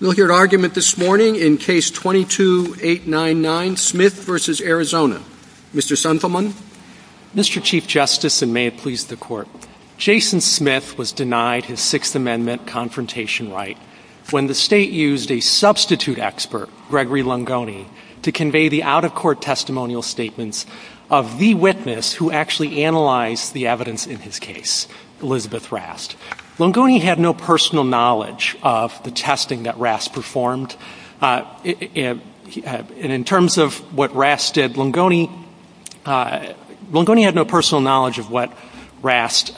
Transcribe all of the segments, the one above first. We'll hear an argument this morning in Case 22-899, Smith v. Arizona. Mr. Sunfelman? Mr. Chief Justice, and may it please the Court, Jason Smith was denied his Sixth Amendment confrontation right when the state used a substitute expert, Gregory Lungoni, to convey the out-of-court testimonial statements of the witness who actually analyzed the evidence in his case, Elizabeth Rast. Lungoni had no personal knowledge of the testing that Rast performed. In terms of what Rast did, Lungoni had no personal knowledge of what Rast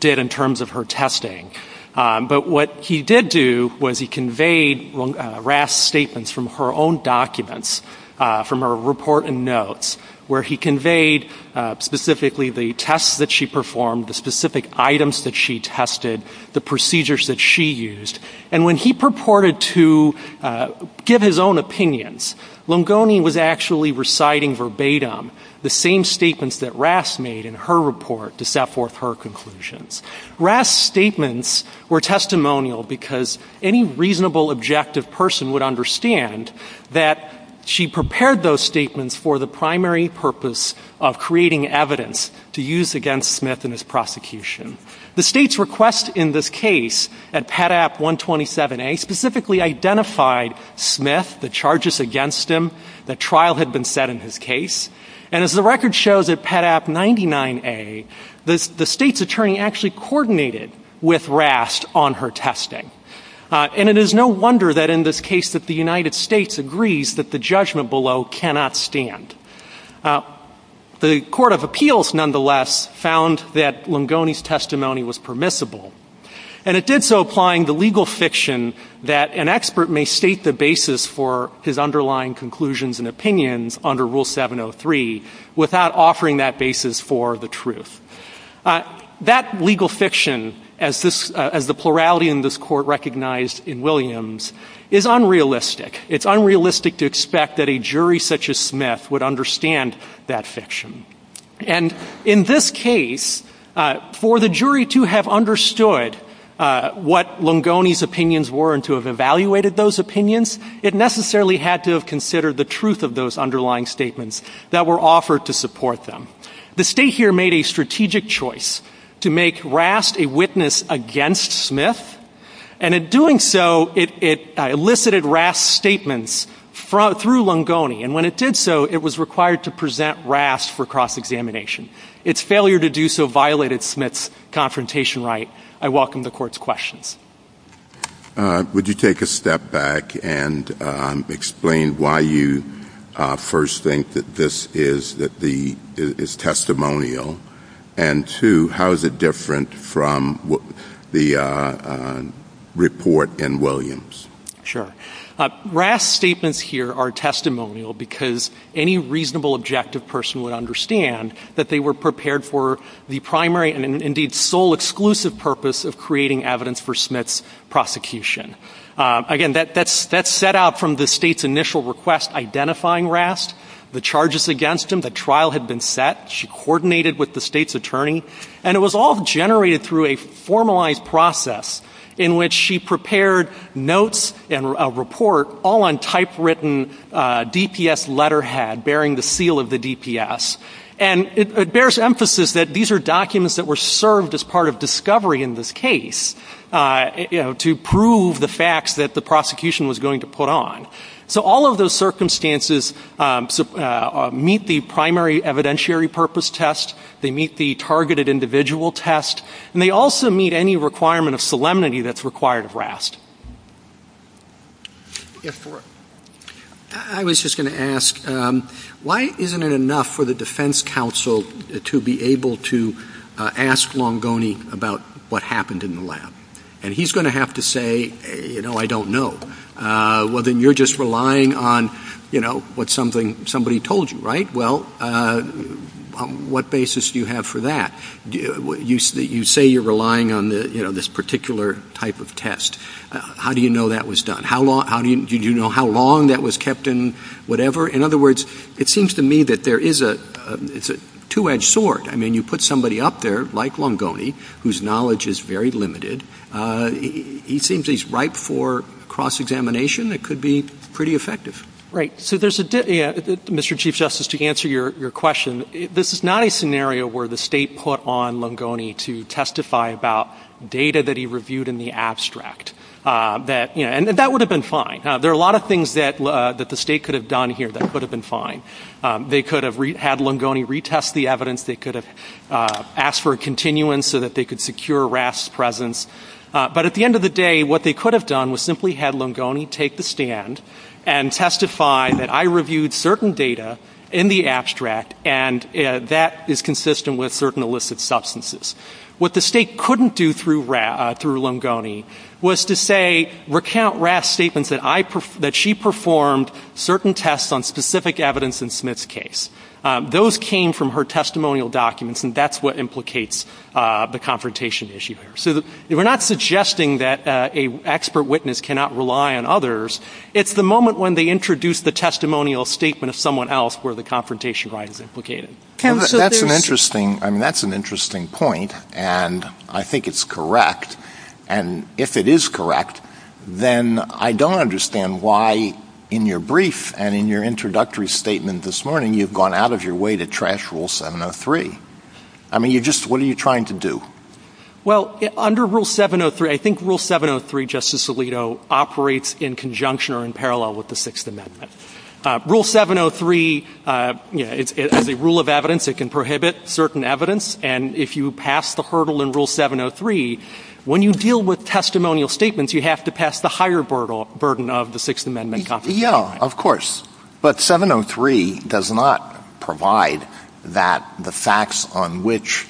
did in terms of her testing. But what he did do was he conveyed Rast's statements from her own documents, from her report and notes, where he conveyed specifically the tests that she performed, the specific items that she tested, the procedures that she used. And when he purported to give his own opinions, Lungoni was actually reciting verbatim the same statements that Rast made in her report to set forth her conclusions. Rast's statements were testimonial because any reasonable, objective person would understand that she prepared those statements for the primary purpose of creating evidence to use against Smith in his prosecution. The state's request in this case at PATAP 127A specifically identified Smith, the charges against him, the trial had been set in his case. And as the record shows at PATAP 99A, the state's attorney actually coordinated with Rast on her testing. And it is no wonder that in this case that the United States agrees that the judgment below cannot stand. The Court of Appeals, nonetheless, found that Lungoni's testimony was permissible. And it did so applying the legal fiction that an expert may state the basis for his underlying conclusions and opinions under Rule 703 without offering that basis for the truth. That legal fiction, as the plurality in this court recognized in Williams, is unrealistic. It's unrealistic to expect that a jury such as Smith would understand that fiction. And in this case, for the jury to have understood what Lungoni's opinions were and to have evaluated those opinions, it necessarily had to have considered the truth of those underlying statements that were offered to support them. The state here made a strategic choice to make Rast a witness against Smith. And in doing so, it elicited Rast's statements through Lungoni. And when it did so, it was required to present Rast for cross-examination. Its failure to do so violated Smith's confrontation right. I welcome the Court's questions. Would you take a step back and explain why you first think that this is testimonial? And two, how is it different from the report in Williams? Sure. Rast's statements here are testimonial because any reasonable, objective person would understand that they were prepared for the primary and indeed sole exclusive purpose of creating evidence for Smith's prosecution. Again, that's set out from the state's initial request identifying Rast, the charges against him, the trial had been set. She coordinated with the state's attorney. And it was all generated through a formalized process in which she prepared notes and a report all on typewritten DPS letterhead bearing the seal of the DPS. And it bears emphasis that these are documents that were served as part of discovery in this case, you know, to prove the facts that the prosecution was going to put on. So all of those circumstances meet the primary evidentiary purpose test. They meet the targeted individual test. And they also meet any requirement of solemnity that's required of Rast. Yes, Thor. I was just going to ask, why isn't it enough for the defense counsel to be able to ask Longoni about what happened in the lab? And he's going to have to say, you know, I don't know. Well, then you're just relying on, you know, what somebody told you, right? Well, on what basis do you have for that? You say you're relying on this particular type of test. How do you know that was done? Do you know how long that was kept in whatever? In other words, it seems to me that there is a two-edged sword. I mean, you put somebody up there, like Longoni, whose knowledge is very limited. He seems he's ripe for cross-examination. It could be pretty effective. Right. Mr. Chief Justice, to answer your question, this is not a scenario where the state put on Longoni to testify about data that he reviewed in the abstract. And that would have been fine. There are a lot of things that the state could have done here that could have been fine. They could have had Longoni retest the evidence. They could have asked for a continuance so that they could secure RAS's presence. But at the end of the day, what they could have done was simply had Longoni take the stand and testify that I reviewed certain data in the abstract, and that is consistent with certain illicit substances. What the state couldn't do through Longoni was to say, recount RAS's statements that she performed certain tests on specific evidence in Smith's case. Those came from her testimonial documents, and that's what implicates the confrontation issue here. So we're not suggesting that an expert witness cannot rely on others. It's the moment when they introduce the testimonial statement of someone else where the confrontation right is implicated. That's an interesting point, and I think it's correct. And if it is correct, then I don't understand why in your brief and in your introductory statement this morning you've gone out of your way to trash Rule 703. I mean, what are you trying to do? Well, under Rule 703, I think Rule 703, Justice Alito, operates in conjunction or in parallel with the Sixth Amendment. Rule 703, the rule of evidence, it can prohibit certain evidence, and if you pass the hurdle in Rule 703, when you deal with testimonial statements, you have to pass the higher burden of the Sixth Amendment. Yeah, of course. But 703 does not provide that the facts on which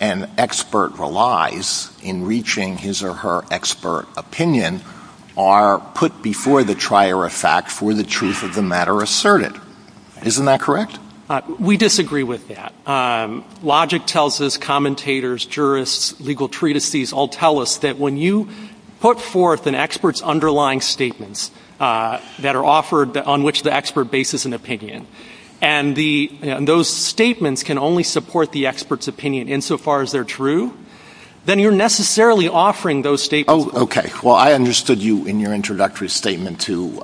an expert relies in reaching his or her expert opinion are put before the trier of fact for the truth of the matter asserted. Isn't that correct? We disagree with that. Logic tells us, commentators, jurists, legal treatises all tell us that when you put forth an expert's underlying statements that are offered on which the expert bases an opinion, and those statements can only support the expert's opinion insofar as they're true, then you're necessarily offering those statements. Oh, okay. Well, I understood you in your introductory statement to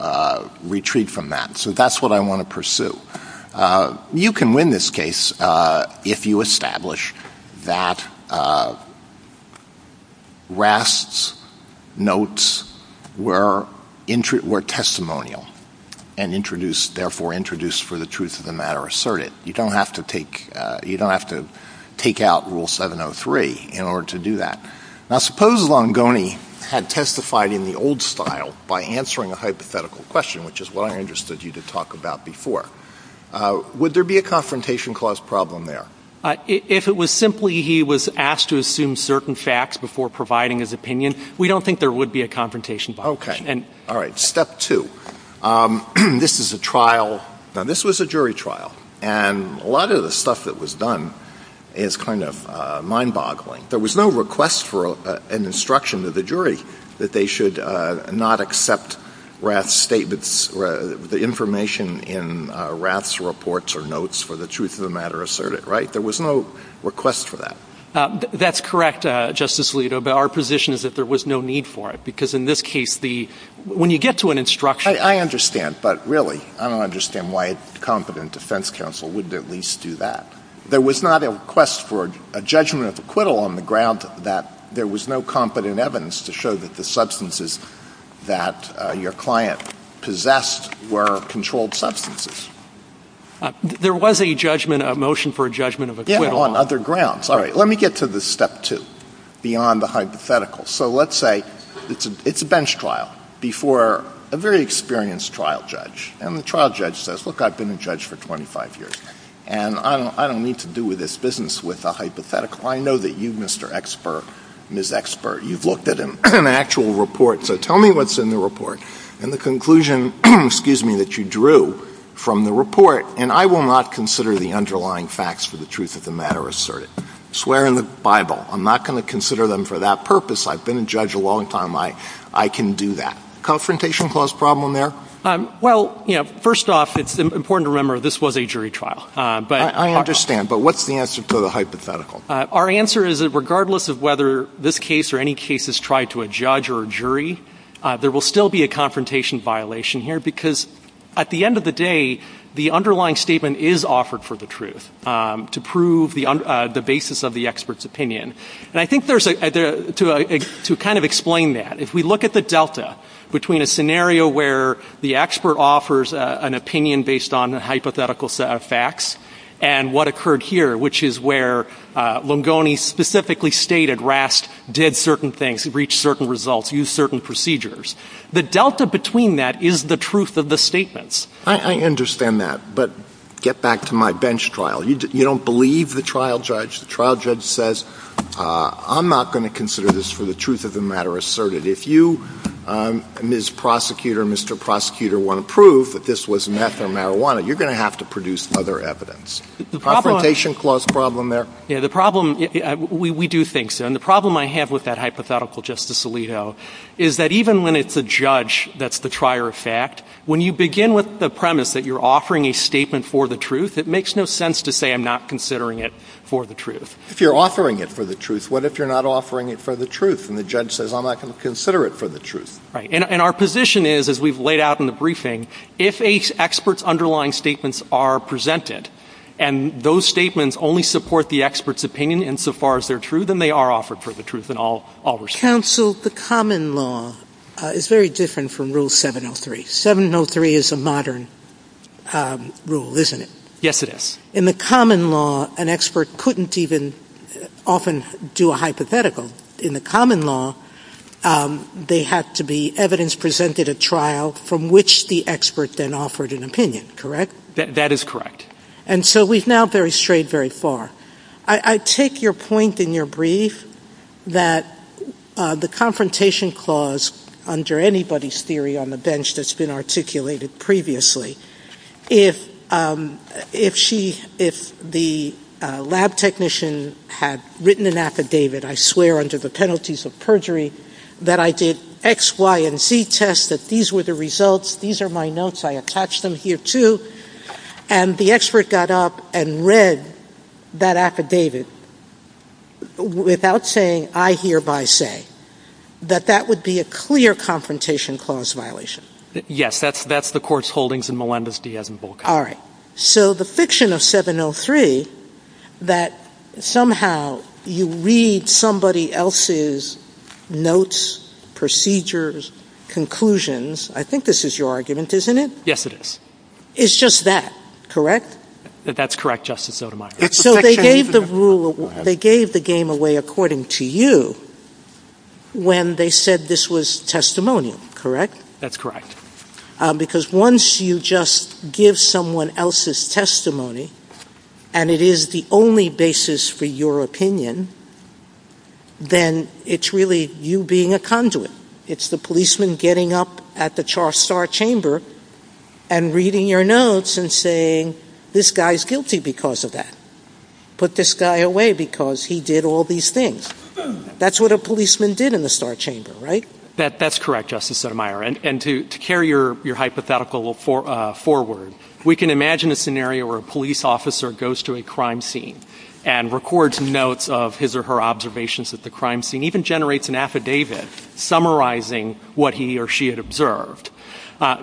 retreat from that, so that's what I want to pursue. You can win this case if you establish that RASTS notes were testimonial and therefore introduced for the truth of the matter asserted. You don't have to take out Rule 703 in order to do that. Now, suppose Longoni had testified in the old style by answering a hypothetical question, which is what I understood you to talk about before. Would there be a confrontation clause problem there? If it was simply he was asked to assume certain facts before providing his opinion, we don't think there would be a confrontation clause. Okay. All right. Step two. This is a trial. Now, this was a jury trial, and a lot of the stuff that was done is kind of mind-boggling. There was no request for an instruction to the jury that they should not accept RASTS statements, the information in RASTS reports or notes for the truth of the matter asserted, right? There was no request for that. That's correct, Justice Alito, but our position is that there was no need for it, because in this case, when you get to an instruction— I understand, but really, I don't understand why a competent defense counsel wouldn't at least do that. There was not a request for a judgment of acquittal on the ground that there was no competent evidence to show that the substances that your client possessed were controlled substances. There was a judgment, a motion for a judgment of acquittal. Yeah, on other grounds. All right, let me get to the step two, beyond the hypothetical. So let's say it's a bench trial before a very experienced trial judge, and the trial judge says, look, I've been a judge for 25 years, and I don't need to do this business with a hypothetical. I know that you, Mr. Expert, Ms. Expert, you've looked at an actual report, so tell me what's in the report. And the conclusion, excuse me, that you drew from the report, and I will not consider the underlying facts for the truth of the matter asserted. Swear in the Bible. I'm not going to consider them for that purpose. I've been a judge a long time. I can do that. Confrontation clause problem there? Well, first off, it's important to remember this was a jury trial. I understand, but what's the answer to the hypothetical? Our answer is that regardless of whether this case or any case is tried to a judge or a jury, there will still be a confrontation violation here because at the end of the day, the underlying statement is offered for the truth to prove the basis of the expert's opinion. And I think to kind of explain that, if we look at the delta between a scenario where the expert offers an opinion based on hypothetical facts and what occurred here, which is where Lungoni specifically stated Rast did certain things, reached certain results, used certain procedures, the delta between that is the truth of the statements. I understand that, but get back to my bench trial. You don't believe the trial judge. The trial judge says, I'm not going to consider this for the truth of the matter asserted. If you, Ms. Prosecutor, Mr. Prosecutor, want to prove that this was meth or marijuana, you're going to have to produce other evidence. Confrontation clause problem there? Yeah, the problem, we do think so. And the problem I have with that hypothetical, Justice Alito, is that even when it's a judge that's the trier of fact, when you begin with the premise that you're offering a statement for the truth, it makes no sense to say I'm not considering it for the truth. If you're offering it for the truth, what if you're not offering it for the truth and the judge says, I'm not going to consider it for the truth? Right, and our position is, as we've laid out in the briefing, if an expert's underlying statements are presented and those statements only support the expert's opinion insofar as they're true, then they are offered for the truth in all respects. Counsel, the common law is very different from Rule 703. 703 is a modern rule, isn't it? Yes, it is. In the common law, an expert couldn't even often do a hypothetical. In the common law, they have to be evidence presented at trial from which the expert then offered an opinion, correct? That is correct. And so we've now very strayed very far. I take your point in your brief that the confrontation clause, under anybody's theory on the bench that's been articulated previously, if the lab technician had written an affidavit, I swear under the penalties of perjury, that I did X, Y, and Z tests, that these were the results, these are my notes, I attached them here too, and the expert got up and read that affidavit without saying, I hereby say, that that would be a clear confrontation clause violation. Yes, that's the court's holdings in Melendez-Diaz and Volkow. All right. So the fiction of 703, that somehow you read somebody else's notes, procedures, conclusions, I think this is your argument, isn't it? Yes, it is. It's just that, correct? That's correct, Justice Sotomayor. So they gave the game away, according to you, when they said this was testimony, correct? That's correct. Because once you just give someone else's testimony, and it is the only basis for your opinion, then it's really you being a conduit. It's the policeman getting up at the star chamber and reading your notes and saying, this guy is guilty because of that. Put this guy away because he did all these things. That's what a policeman did in the star chamber, right? That's correct, Justice Sotomayor. And to carry your hypothetical forward, we can imagine a scenario where a police officer goes to a crime scene and records notes of his or her observations at the crime scene,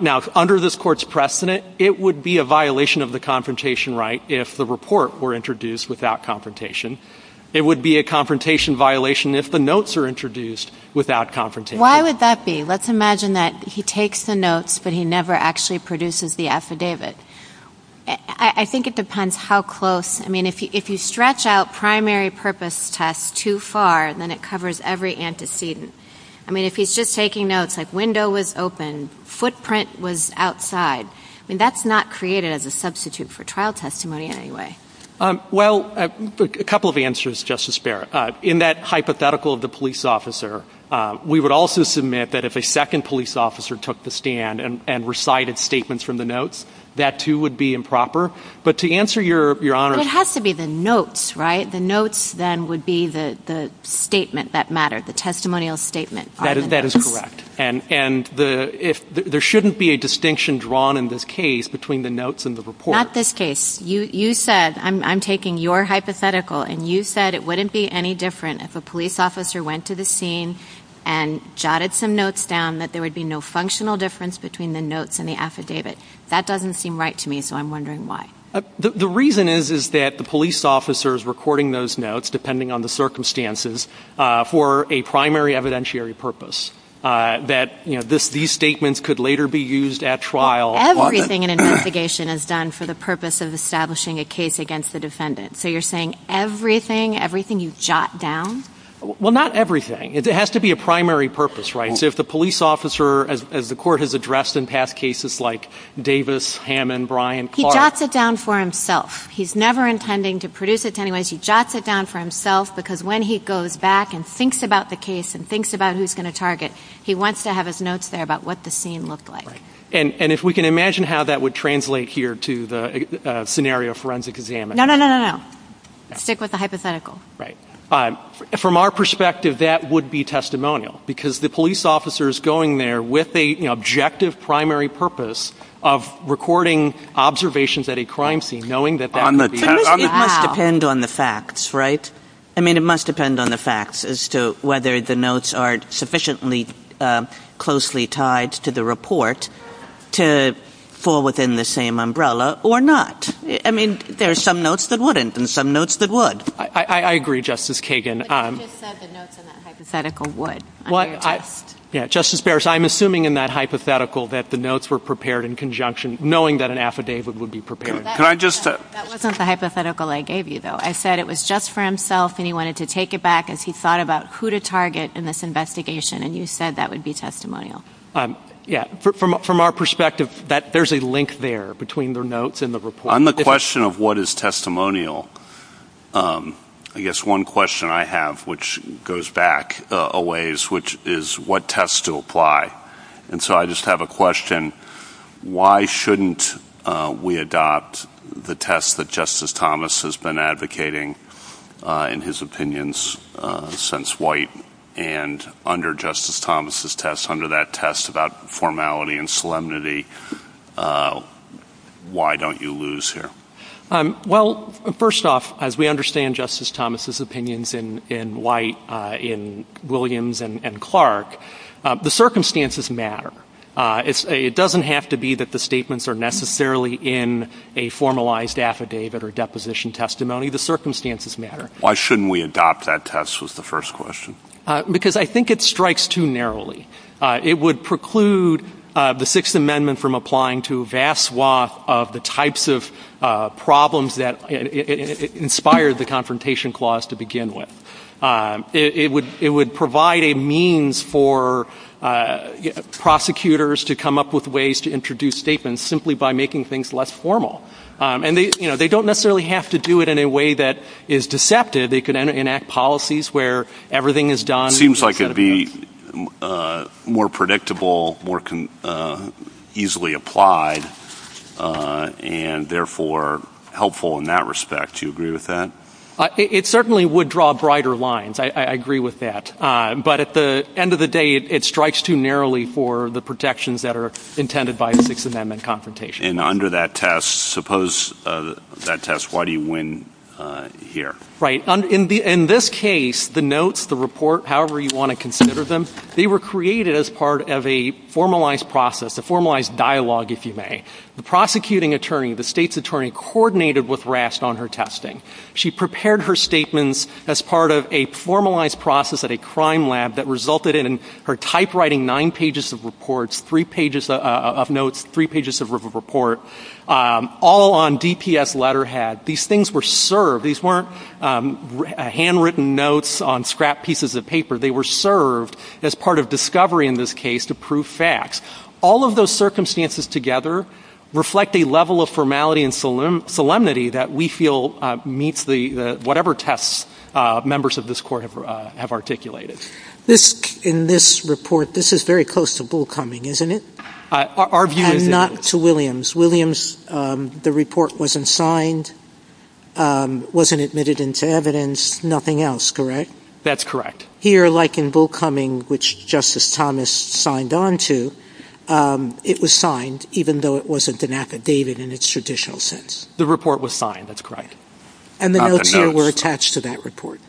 Now, under this court's precedent, it would be a violation of the confrontation right if the report were introduced without confrontation. It would be a confrontation violation if the notes are introduced without confrontation. Why would that be? Let's imagine that he takes the notes, but he never actually produces the affidavit. I think it depends how close. I mean, if you stretch out primary purpose tests too far, then it covers every antecedent. I mean, if he's just taking notes, like window was open, footprint was outside. I mean, that's not created as a substitute for trial testimony in any way. Well, a couple of answers, Justice Behr. In that hypothetical of the police officer, we would also submit that if a second police officer took the stand and recited statements from the notes, that, too, would be improper. But to answer your honor— It has to be the notes, right? The notes, then, would be the statement that mattered, the testimonial statement. That is correct. And there shouldn't be a distinction drawn in this case between the notes and the report. Not this case. You said, I'm taking your hypothetical, and you said it wouldn't be any different if a police officer went to the scene and jotted some notes down that there would be no functional difference between the notes and the affidavit. That doesn't seem right to me, so I'm wondering why. The reason is that the police officer is recording those notes, depending on the circumstances, for a primary evidentiary purpose. That these statements could later be used at trial. Everything in an investigation is done for the purpose of establishing a case against the defendant. So you're saying everything, everything you jot down? Well, not everything. It has to be a primary purpose, right? So if the police officer, as the court has addressed in past cases like Davis, Hammond, Bryan, Clark— He jots it down for himself. He's never intending to produce it to anyone. He jots it down for himself because when he goes back and thinks about the case and thinks about who's going to target, he wants to have his notes there about what the scene looked like. And if we can imagine how that would translate here to the scenario of forensic examination. No, no, no, no, no. Stick with the hypothetical. Right. From our perspective, that would be testimonial because the police officer is going there with an objective primary purpose of recording observations at a crime scene, knowing that that would be— It must depend on the facts, right? I mean, it must depend on the facts as to whether the notes are sufficiently closely tied to the report to fall within the same umbrella or not. I mean, there are some notes that wouldn't and some notes that would. I agree, Justice Kagan. But he just said the notes in that hypothetical would. Yeah, Justice Barrett, so I'm assuming in that hypothetical that the notes were prepared in conjunction, knowing that an affidavit would be prepared. That wasn't the hypothetical I gave you, though. I said it was just for himself and he wanted to take it back as he thought about who to target in this investigation, and you said that would be testimonial. Yeah. From our perspective, there's a link there between the notes and the report. On the question of what is testimonial, I guess one question I have, which goes back a ways, which is what tests to apply. And so I just have a question. Why shouldn't we adopt the test that Justice Thomas has been advocating in his opinions since White? And under Justice Thomas's test, under that test about formality and solemnity, why don't you lose here? Well, first off, as we understand Justice Thomas's opinions in White, in Williams, and Clark, the circumstances matter. It doesn't have to be that the statements are necessarily in a formalized affidavit or deposition testimony. The circumstances matter. Why shouldn't we adopt that test was the first question. Because I think it strikes too narrowly. It would preclude the Sixth Amendment from applying to a vast swath of the types of problems that inspired the Confrontation Clause to begin with. It would provide a means for prosecutors to come up with ways to introduce statements simply by making things less formal. And they don't necessarily have to do it in a way that is deceptive. They can enact policies where everything is done. It seems like it would be more predictable, more easily applied, and therefore helpful in that respect. Do you agree with that? It certainly would draw brighter lines. I agree with that. But at the end of the day, it strikes too narrowly for the protections that are intended by the Sixth Amendment Confrontation Clause. And under that test, suppose that test, why do you win here? Right. In this case, the notes, the report, however you want to consider them, they were created as part of a formalized process, a formalized dialogue, if you may. The prosecuting attorney, the state's attorney, coordinated with RAST on her testing. She prepared her statements as part of a formalized process at a crime lab that resulted in her typewriting nine pages of notes, three pages of report, all on DPS letterhead. These things were served. These weren't handwritten notes on scrap pieces of paper. They were served as part of discovery in this case to prove facts. All of those circumstances together reflect a level of formality and solemnity that we feel meets whatever tests members of this Court have articulated. In this report, this is very close to bull coming, isn't it? Our view is that — And not to Williams. Williams, the report wasn't signed, wasn't admitted into evidence, nothing else, correct? That's correct. Here, like in bull coming, which Justice Thomas signed on to, it was signed, even though it wasn't an affidavit in its traditional sense. The report was signed. That's correct. And the notes here were attached to that report.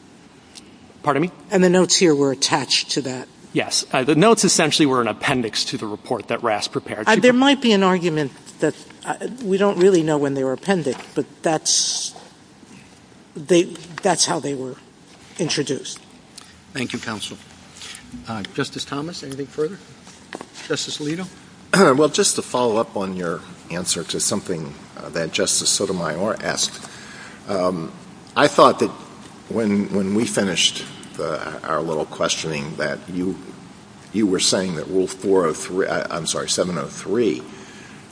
Pardon me? And the notes here were attached to that. Yes. The notes essentially were an appendix to the report that RAST prepared. There might be an argument that we don't really know when they were appended, but that's how they were introduced. Thank you, counsel. Justice Thomas, anything further? Justice Alito? Well, just to follow up on your answer to something that Justice Sotomayor asked, I thought that when we finished our little questioning that you were saying that Rule 703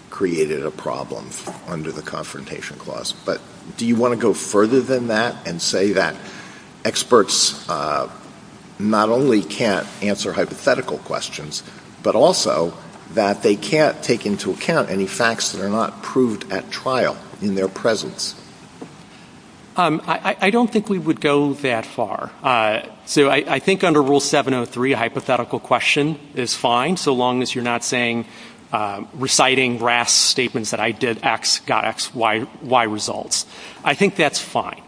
created a problem under the Confrontation Clause. But do you want to go further than that and say that experts not only can't answer hypothetical questions, but also that they can't take into account any facts that are not proved at trial in their presence? I don't think we would go that far. So I think under Rule 703, a hypothetical question is fine so long as you're not saying, reciting RAST statements that I did X, got X, Y results. I think that's fine.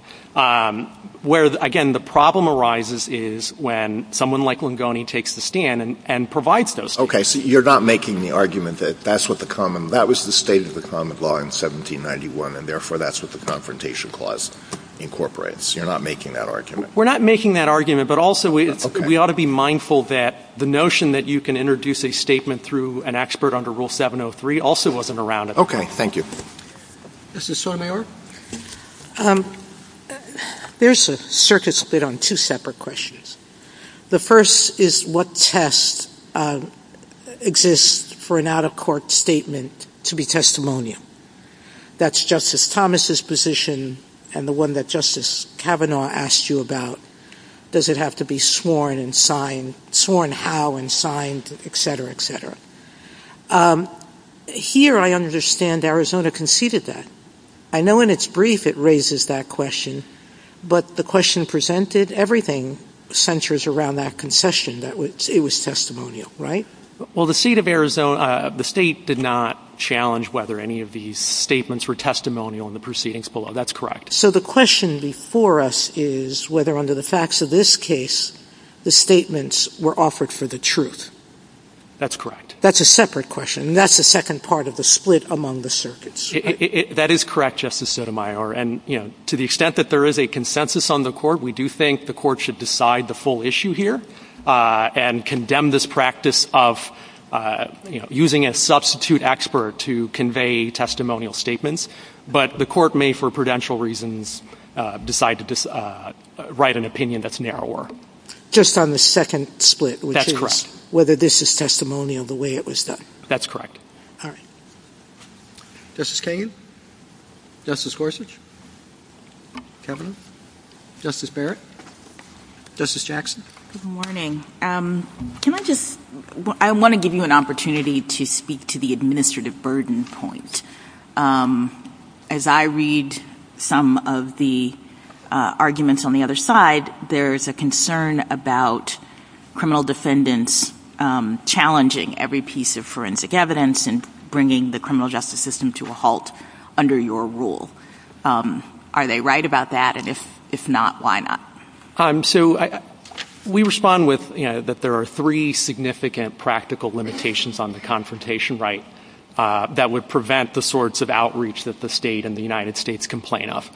Where, again, the problem arises is when someone like Longoni takes the stand and provides those. Okay, so you're not making the argument that that's what the common – that was the state of the common law in 1791, and therefore that's what the Confrontation Clause incorporates. You're not making that argument. We're not making that argument, but also we ought to be mindful that the notion that you can introduce a statement through an expert under Rule 703 also wasn't around at the time. Okay, thank you. Justice Sotomayor? There's a circuit split on two separate questions. The first is what test exists for an out-of-court statement to be testimonial. That's Justice Thomas's position, and the one that Justice Kavanaugh asked you about, does it have to be sworn and signed, sworn how and signed, et cetera, et cetera. Here I understand Arizona conceded that. I know in its brief it raises that question, but the question presented, everything centers around that concession. It was testimonial, right? Well, the state of Arizona – the state did not challenge whether any of these statements were testimonial in the proceedings below. That's correct. So the question before us is whether under the facts of this case the statements were offered for the truth. That's correct. That's a separate question, and that's the second part of the split among the circuits. That is correct, Justice Sotomayor, and to the extent that there is a consensus on the court, we do think the court should decide the full issue here and condemn this practice of using a substitute expert to convey testimonial statements. But the court may, for prudential reasons, decide to write an opinion that's narrower. Just on the second split, which is whether this is testimonial the way it was done. That's correct. All right. Justice Kagan? Justice Gorsuch? Kavanaugh? Justice Barrett? Justice Jackson? Good morning. Can I just – I want to give you an opportunity to speak to the administrative burden point. As I read some of the arguments on the other side, there's a concern about criminal defendants challenging every piece of forensic evidence and bringing the criminal justice system to a halt under your rule. Are they right about that? And if not, why not? So we respond with that there are three significant practical limitations on the confrontation right that would prevent the sorts of outreach that the state and the United States complain of.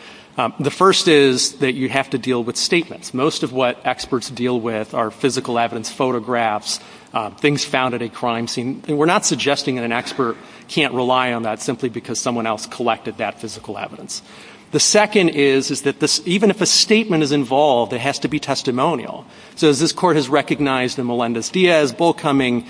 The first is that you have to deal with statements. Most of what experts deal with are physical evidence, photographs, things found at a crime scene. And we're not suggesting that an expert can't rely on that simply because someone else collected that physical evidence. The second is that even if a statement is involved, it has to be testimonial. So as this Court has recognized in Melendez-Diaz, Bullcumming,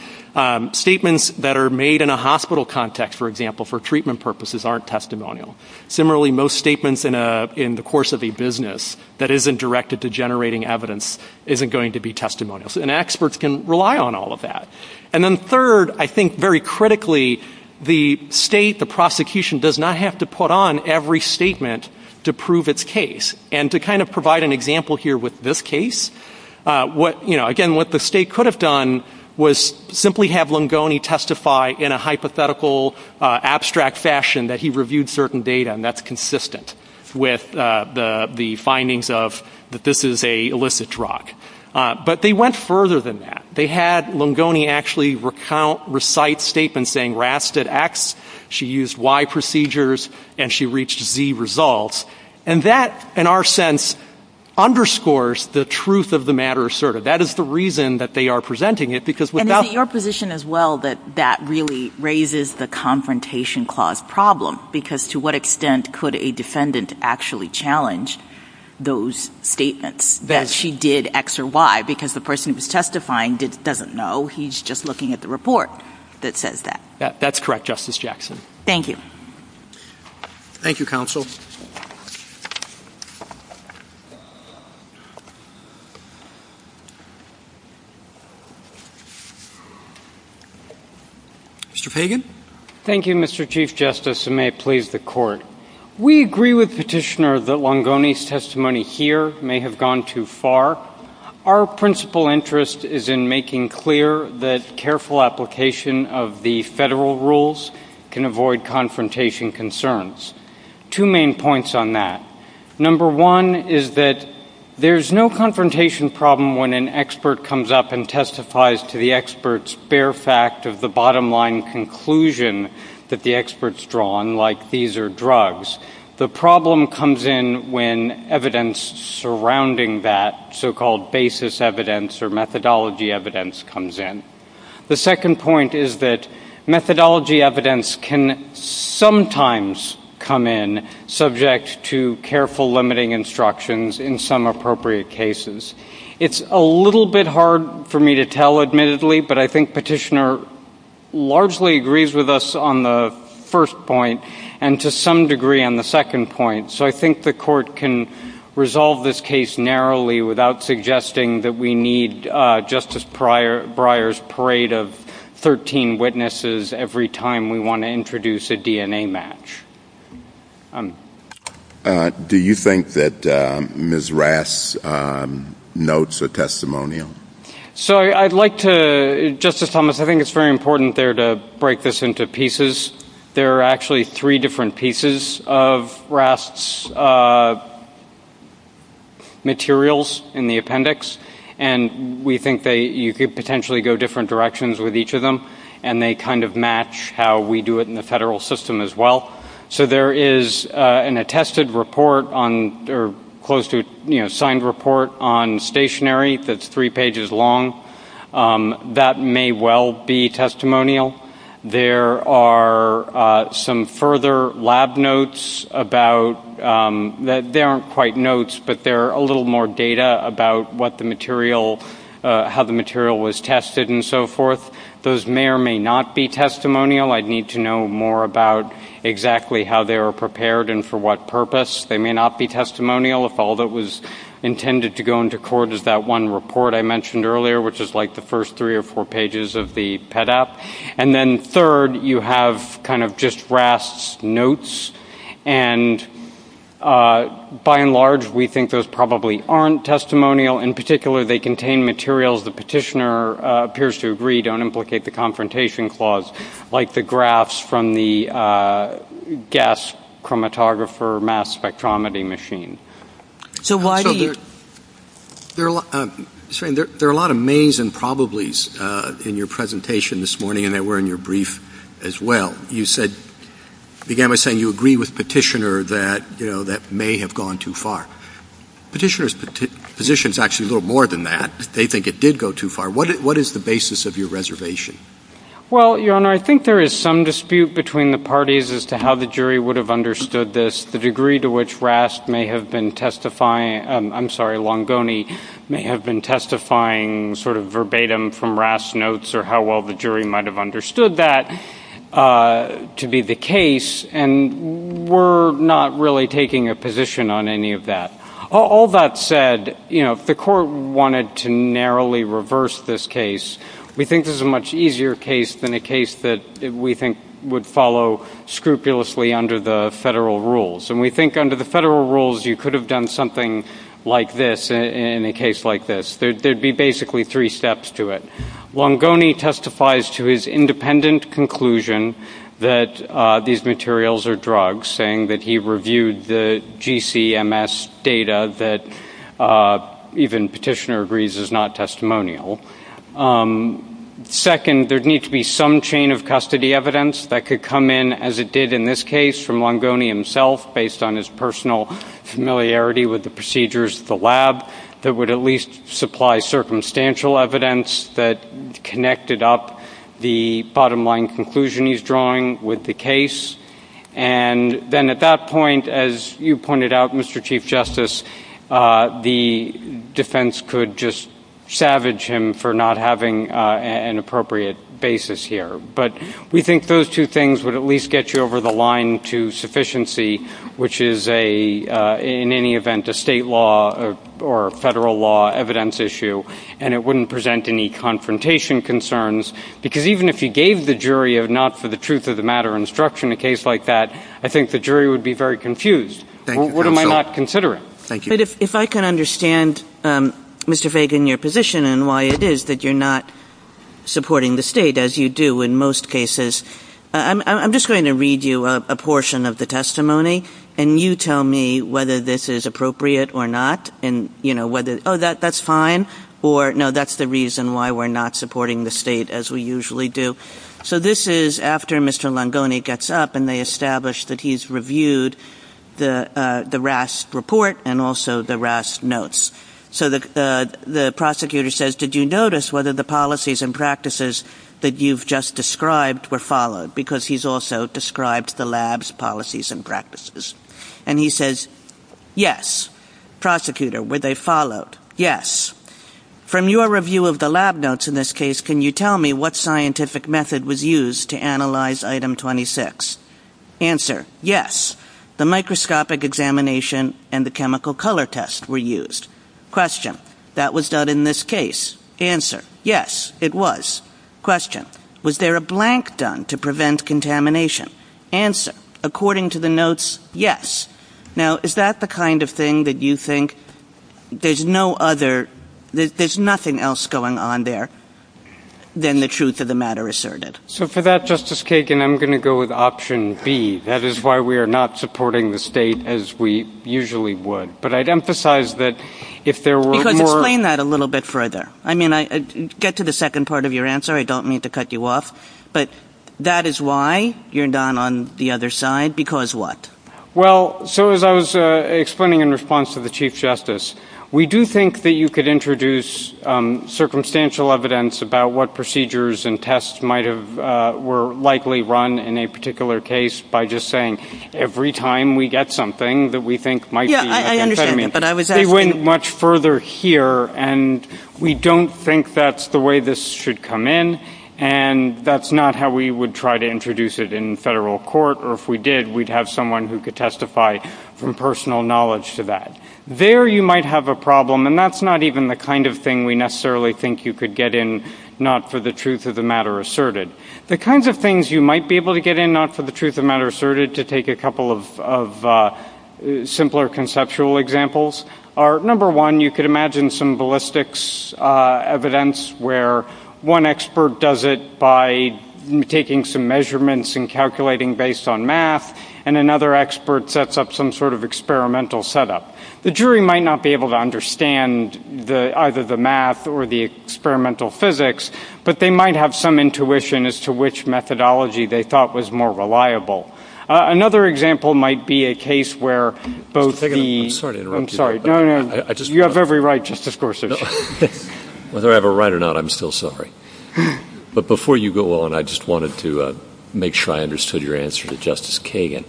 statements that are made in a hospital context, for example, for treatment purposes aren't testimonial. Similarly, most statements in the course of a business that isn't directed to generating evidence isn't going to be testimonial. And experts can rely on all of that. And then third, I think very critically, the state, the prosecution, does not have to put on every statement to prove its case. And to kind of provide an example here with this case, again, what the state could have done was simply have Lungoni testify in a hypothetical, abstract fashion that he reviewed certain data, and that's consistent with the findings of that this is an illicit drug. But they went further than that. They had Lungoni actually recount, recite statements saying Raf did X, she used Y procedures, and she reached Z results. And that, in our sense, underscores the truth of the matter asserted. That is the reason that they are presenting it, because without... And in your position as well, that that really raises the confrontation clause problem, because to what extent could a defendant actually challenge those statements, that she did X or Y, because the person who's testifying doesn't know. He's just looking at the report that says that. That's correct, Justice Jackson. Thank you. Thank you, counsel. Mr. Fagan. Thank you, Mr. Chief Justice, and may it please the Court. We agree with Petitioner that Lungoni's testimony here may have gone too far. Our principal interest is in making clear that careful application of the federal rules can avoid confrontation concerns. Two main points on that. Number one is that there's no confrontation problem when an expert comes up and testifies to the expert's bare fact of the bottom-line conclusion that the expert's drawn, like these are drugs. The problem comes in when evidence surrounding that so-called basis evidence or methodology evidence comes in. The second point is that methodology evidence can sometimes come in subject to careful limiting instructions in some appropriate cases. It's a little bit hard for me to tell, admittedly, but I think Petitioner largely agrees with us on the first point and to some degree on the second point. So I think the Court can resolve this case narrowly without suggesting that we need Justice Breyer's parade of 13 witnesses every time we want to introduce a DNA match. Do you think that Ms. Rass notes a testimonial? So I'd like to, Justice Thomas, I think it's very important there to break this into pieces. There are actually three different pieces of Rass's materials in the appendix, and we think you could potentially go different directions with each of them, and they kind of match how we do it in the federal system as well. So there is an attested report on, or close to, you know, signed report on stationary that's three pages long. That may well be testimonial. There are some further lab notes about, they aren't quite notes, but they're a little more data about what the material, how the material was tested and so forth. Those may or may not be testimonial. I'd need to know more about exactly how they were prepared and for what purpose. They may not be testimonial if all that was intended to go into court is that one report I mentioned earlier, which is like the first three or four pages of the PET app. And then third, you have kind of just Rass's notes, and by and large we think those probably aren't testimonial. In particular, they contain materials the petitioner appears to agree don't implicate the confrontation clause, like the graphs from the gas chromatographer mass spectrometry machine. So why do you- There are a lot of mays and probablys in your presentation this morning, and they were in your brief as well. You said, began by saying you agree with petitioner that, you know, that may have gone too far. Petitioner's position is actually a little more than that. They think it did go too far. What is the basis of your reservation? Well, Your Honor, I think there is some dispute between the parties as to how the jury would have understood this, the degree to which Rass may have been testifying-I'm sorry, Longoni- may have been testifying sort of verbatim from Rass's notes or how well the jury might have understood that to be the case, and we're not really taking a position on any of that. All that said, you know, if the court wanted to narrowly reverse this case, we think this is a much easier case than a case that we think would follow scrupulously under the federal rules, and we think under the federal rules you could have done something like this in a case like this. There would be basically three steps to it. Longoni testifies to his independent conclusion that these materials are drugs, saying that he reviewed the GCMS data that even Petitioner agrees is not testimonial. Second, there would need to be some chain of custody evidence that could come in, as it did in this case, from Longoni himself based on his personal familiarity with the procedures at the lab that would at least supply circumstantial evidence that connected up the bottom-line conclusion he's drawing with the case, and then at that point, as you pointed out, Mr. Chief Justice, the defense could just savage him for not having an appropriate basis here. But we think those two things would at least get you over the line to sufficiency, which is in any event a state law or federal law evidence issue, and it wouldn't present any confrontation concerns, because even if you gave the jury a not-for-the-truth-of-the-matter instruction in a case like that, I think the jury would be very confused. What am I not considering? But if I can understand, Mr. Fagan, your position and why it is that you're not supporting the state, as you do in most cases, I'm just going to read you a portion of the testimony, and you tell me whether this is appropriate or not and, you know, whether, oh, that's fine, or, no, that's the reason why we're not supporting the state, as we usually do. So this is after Mr. Longoni gets up, and they establish that he's reviewed the RASP report and also the RASP notes. So the prosecutor says, did you notice whether the policies and practices that you've just described were followed? Because he's also described the lab's policies and practices. And he says, yes. Prosecutor, were they followed? Yes. From your review of the lab notes in this case, can you tell me what scientific method was used to analyze Item 26? Answer, yes. The microscopic examination and the chemical color test were used. Question, that was done in this case. Answer, yes, it was. Question, was there a blank done to prevent contamination? Answer, according to the notes, yes. Now, is that the kind of thing that you think there's no other ‑‑ there's nothing else going on there than the truth of the matter asserted? So for that, Justice Kagan, I'm going to go with option B. That is why we are not supporting the state as we usually would. But I'd emphasize that if there were more ‑‑ Explain that a little bit further. I mean, get to the second part of your answer. I don't mean to cut you off. But that is why you're down on the other side. Because what? Well, as I was explaining in response to the Chief Justice, we do think that you could introduce circumstantial evidence about what procedures and tests might have ‑‑ were likely run in a particular case by just saying every time we get something that we think might be ‑‑ Yeah, I understand. But I was asking ‑‑ We went much further here. And we don't think that's the way this should come in. And that's not how we would try to introduce it in federal court. Or if we did, we'd have someone who could testify from personal knowledge to that. There you might have a problem. And that's not even the kind of thing we necessarily think you could get in not for the truth of the matter asserted. The kinds of things you might be able to get in not for the truth of the matter asserted, to take a couple of simpler conceptual examples, are, number one, you could imagine some ballistics evidence where one expert does it by taking some measurements and calculating based on math, and another expert sets up some sort of experimental setup. The jury might not be able to understand either the math or the experimental physics, but they might have some intuition as to which methodology they thought was more reliable. Another example might be a case where both the ‑‑ I'm sorry to interrupt you. I'm sorry. No, no. You have every right, Justice Gorsuch. Whether I have a right or not, I'm still sorry. But before you go on, I just wanted to make sure I understood your answer to Justice Kagan.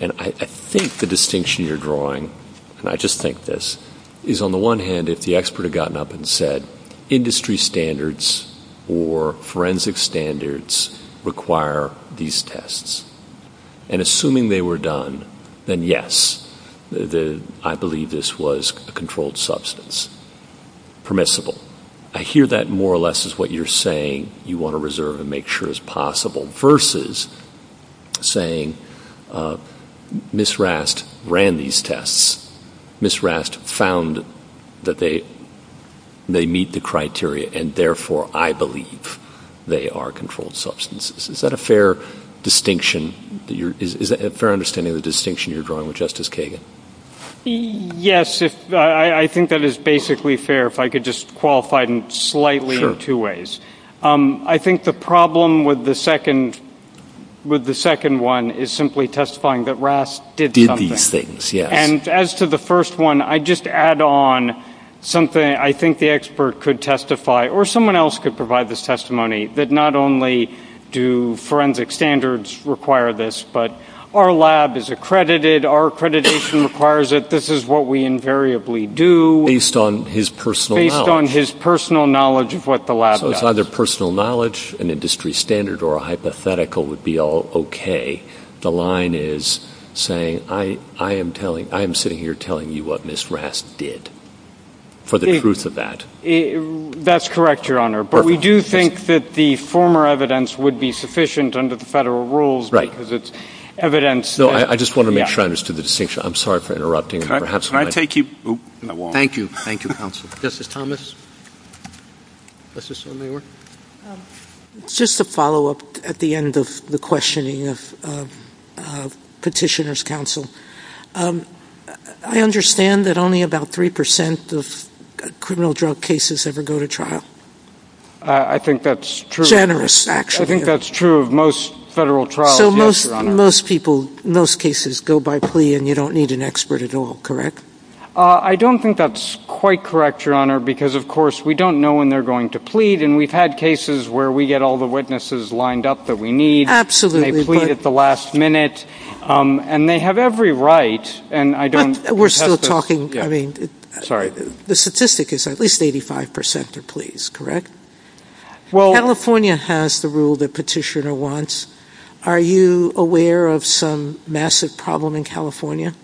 And I think the distinction you're drawing, and I just think this, is on the one hand, if the expert had gotten up and said, industry standards or forensic standards require these tests, and assuming they were done, then yes, I believe this was a controlled substance, permissible. I hear that more or less as what you're saying you want to reserve and make sure is possible, versus saying Ms. Rast ran these tests, Ms. Rast found that they meet the criteria, and therefore I believe they are controlled substances. Is that a fair distinction? Is it a fair understanding of the distinction you're drawing with Justice Kagan? Yes. I think that is basically fair, if I could just qualify it slightly in two ways. I think the problem with the second one is simply testifying that Rast did something. Did these things, yes. And as for the first one, I just add on something I think the expert could testify, or someone else could provide this testimony, that not only do forensic standards require this, but our lab is accredited, our accreditation requires it, this is what we invariably do. Based on his personal knowledge. Based on his personal knowledge of what the lab does. So it's either personal knowledge, an industry standard, or a hypothetical would be all okay. The line is saying I am sitting here telling you what Ms. Rast did, for the truth of that. That's correct, Your Honor. But we do think that the former evidence would be sufficient under the federal rules because it's evidence. I just want to make sure I understood the distinction. I'm sorry for interrupting. Can I take you? Thank you. Thank you, counsel. Justice Thomas? Just a follow-up at the end of the questioning of petitioner's counsel. I understand that only about 3% of criminal drug cases ever go to trial. I think that's true. Generous, actually. I think that's true of most federal trials. So most people, most cases go by plea and you don't need an expert at all, correct? I don't think that's quite correct, Your Honor, because, of course, we don't know when they're going to plead. And we've had cases where we get all the witnesses lined up that we need. Absolutely. And they plead at the last minute. And they have every right. We're still talking. The statistic is at least 85% are pleas, correct? California has the rule that petitioner wants. Are you aware of some massive problem in California?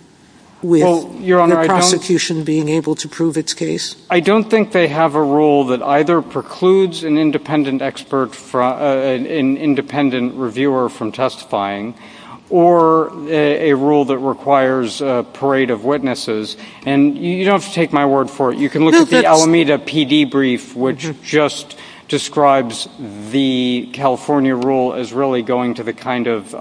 With the prosecution being able to prove its case? I don't think they have a rule that either precludes an independent expert, an independent reviewer from testifying, or a rule that requires a parade of witnesses. And you don't have to take my word for it. You can look at the Alameda PD brief, which just describes the California rule as really going to the kind of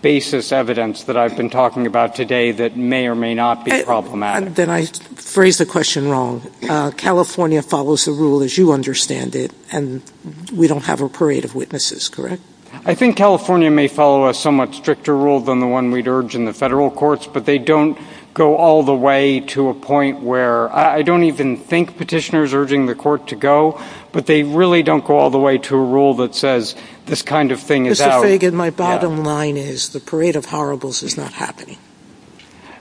basis evidence that I've been talking about today that may or may not be problematic. Then I phrased the question wrong. California follows the rule as you understand it, and we don't have a parade of witnesses, correct? I think California may follow a somewhat stricter rule than the one we'd urge in the federal courts, but they don't go all the way to a point where I don't even think petitioners are urging the court to go, but they really don't go all the way to a rule that says this kind of thing is out. My bottom line is the parade of horribles is not happening.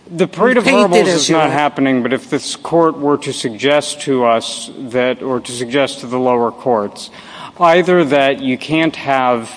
The parade of horribles is not happening, but if this court were to suggest to us, or to suggest to the lower courts, either that you can't have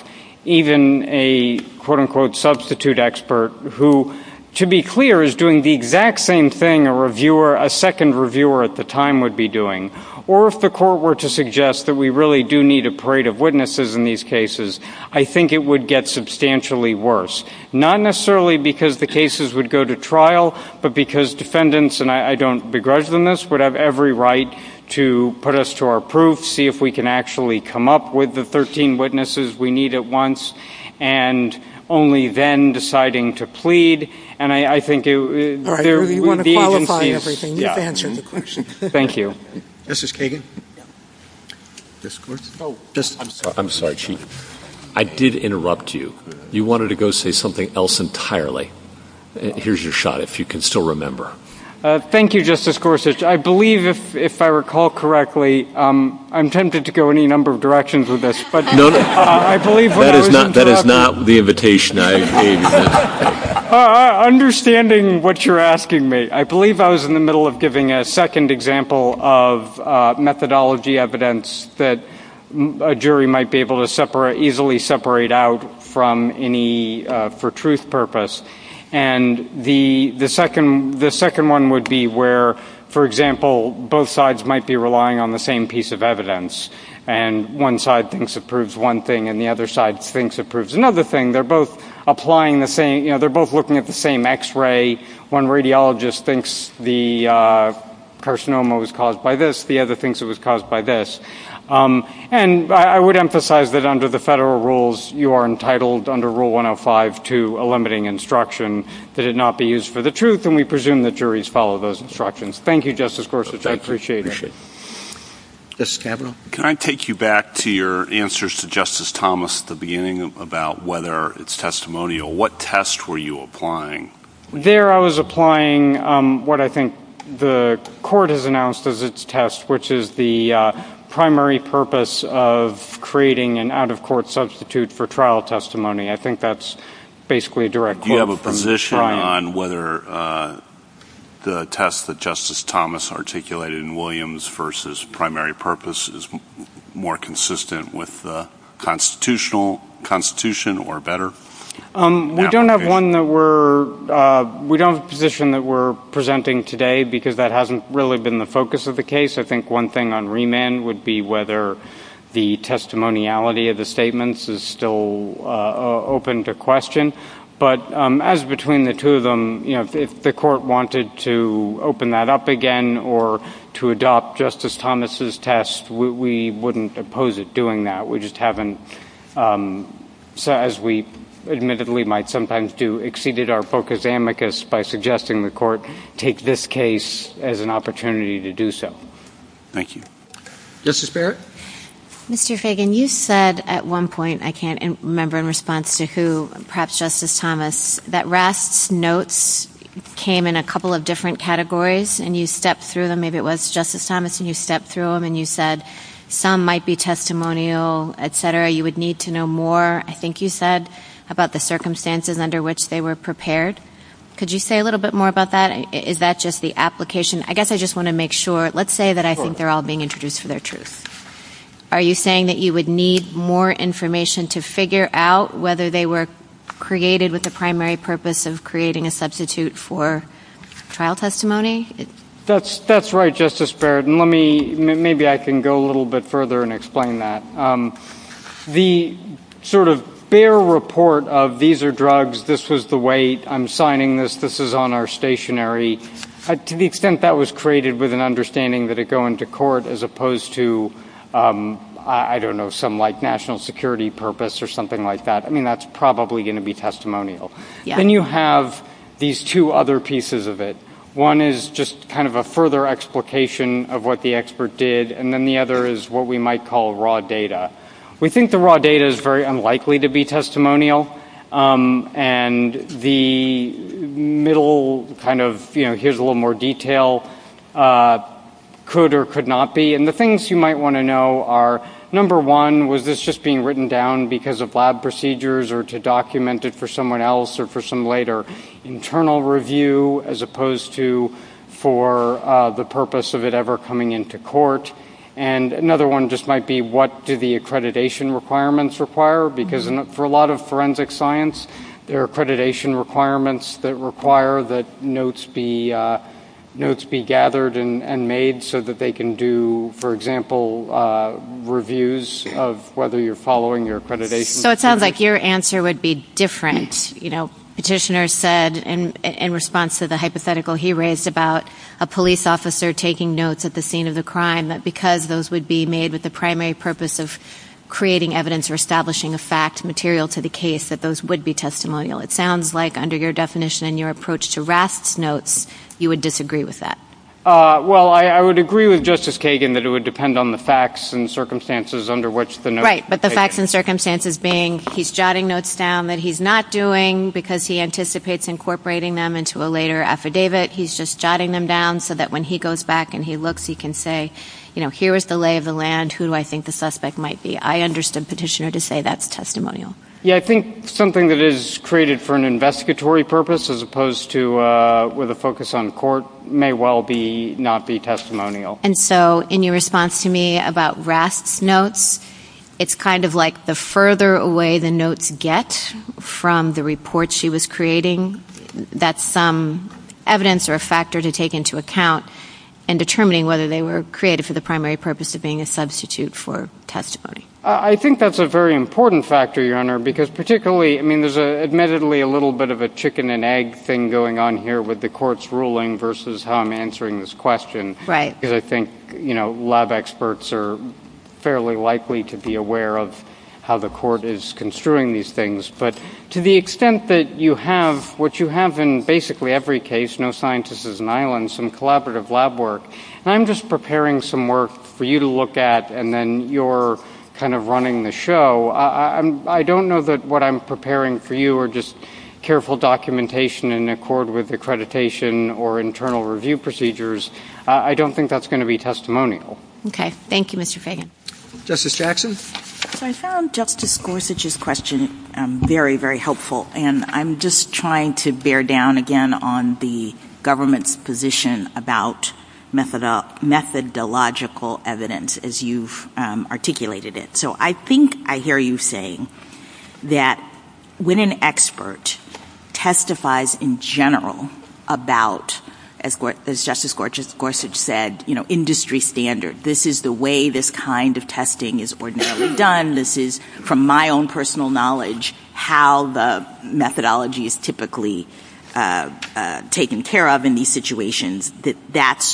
even a quote-unquote substitute expert who, to be clear, is doing the exact same thing a second reviewer at the time would be doing, or if the court were to suggest that we really do need a parade of witnesses in these cases, I think it would get substantially worse. Not necessarily because the cases would go to trial, but because defendants, and I don't begrudge them this, would have every right to put us to our proof, see if we can actually come up with the 13 witnesses we need at once, and only then deciding to plead. I really want to qualify everything you've answered. Thank you. Justice Kagan? I'm sorry, Chief. I did interrupt you. You wanted to go say something else entirely. Here's your shot, if you can still remember. Thank you, Justice Gorsuch. I believe, if I recall correctly, I'm tempted to go any number of directions with this. No, no, that is not the invitation I gave you. Understanding what you're asking me, I believe I was in the middle of giving a second example of methodology evidence that a jury might be able to easily separate out from any for truth purpose. And the second one would be where, for example, both sides might be relying on the same piece of evidence, and one side thinks it proves one thing, and the other side thinks it proves another thing. They're both applying the same, you know, they're both looking at the same x-ray. One radiologist thinks the carcinoma was caused by this. The other thinks it was caused by this. And I would emphasize that under the federal rules, you are entitled under Rule 105 to a limiting instruction that it not be used for the truth, and we presume that juries follow those instructions. Thank you, Justice Gorsuch. I appreciate it. Justice Gabbard? Can I take you back to your answers to Justice Thomas at the beginning about whether it's testimonial? What test were you applying? There I was applying what I think the court has announced as its test, which is the primary purpose of creating an out-of-court substitute for trial testimony. Do you have a position on whether the test that Justice Thomas articulated in Williams versus primary purpose is more consistent with the Constitution or better? We don't have one that we're ‑‑ we don't have a position that we're presenting today because that hasn't really been the focus of the case. I think one thing on remand would be whether the testimoniality of the statements is still open to question. But as between the two of them, if the court wanted to open that up again or to adopt Justice Thomas' test, we wouldn't oppose it doing that. We just haven't, as we admittedly might sometimes do, exceeded our focus amicus by suggesting the court take this case as an opportunity to do so. Thank you. Justice Barrett? Mr. Fagan, you said at one point, I can't remember in response to who, perhaps Justice Thomas, that Rath's notes came in a couple of different categories and you stepped through them. Maybe it was Justice Thomas and you stepped through them and you said some might be testimonial, etc. You would need to know more, I think you said, about the circumstances under which they were prepared. Could you say a little bit more about that? Is that just the application? I guess I just want to make sure. Let's say that I think they're all being introduced for their truth. Are you saying that you would need more information to figure out whether they were created with the primary purpose of creating a substitute for trial testimony? That's right, Justice Barrett. Maybe I can go a little bit further and explain that. The sort of bare report of these are drugs, this was the weight, I'm signing this, this is on our stationary, to the extent that was created with an understanding that it would go into court as opposed to, I don't know, some national security purpose or something like that. I mean, that's probably going to be testimonial. Then you have these two other pieces of it. One is just kind of a further explication of what the expert did, and then the other is what we might call raw data. We think the raw data is very unlikely to be testimonial, and the middle kind of, you know, here's a little more detail, could or could not be. And the things you might want to know are, number one, was this just being written down because of lab procedures or to document it for someone else or for some later internal review as opposed to for the purpose of it ever coming into court? And another one just might be, what do the accreditation requirements require? Because for a lot of forensic science, there are accreditation requirements that require that notes be gathered and made so that they can do, for example, reviews of whether you're following your accreditation. So it sounds like your answer would be different. You know, Petitioner said in response to the hypothetical he raised about a police officer taking notes at the scene of the crime that because those would be made with the primary purpose of creating evidence or establishing a fact material to the case, that those would be testimonial. It sounds like under your definition and your approach to RASP notes, you would disagree with that. Well, I would agree with Justice Kagan that it would depend on the facts and circumstances under which the notes were taken. Right, but the facts and circumstances being he's jotting notes down that he's not doing because he anticipates incorporating them into a later affidavit. He's just jotting them down so that when he goes back and he looks, he can say, you know, here is the lay of the land who I think the suspect might be. I understand Petitioner to say that's testimonial. Yeah, I think something that is created for an investigatory purpose as opposed to with a focus on court may well not be testimonial. And so in your response to me about RASP notes, it's kind of like the further away the notes get from the report she was creating, that's evidence or a factor to take into account in determining whether they were created for the primary purpose of being a substitute for testimony. I think that's a very important factor, Your Honor, because particularly, I mean, there's admittedly a little bit of a chicken and egg thing going on here with the court's ruling versus how I'm answering this question. Right. Because I think, you know, law experts are fairly likely to be aware of how the court is construing these things. But to the extent that you have what you have in basically every case, no scientists as an island, some collaborative lab work, and I'm just preparing some work for you to look at and then you're kind of running the show, I don't know that what I'm preparing for you are just careful documentation in accord with accreditation or internal review procedures. I don't think that's going to be testimonial. Okay. Thank you, Mr. Fagan. Justice Jackson? I found Justice Gorsuch's question very, very helpful, and I'm just trying to bear down again on the government's position about methodological evidence as you've articulated it. So I think I hear you saying that when an expert testifies in general about, as Justice Gorsuch said, you know, industry standard. This is the way this kind of testing is ordinarily done. This is, from my own personal knowledge, how the methodology is typically taken care of in these situations, that that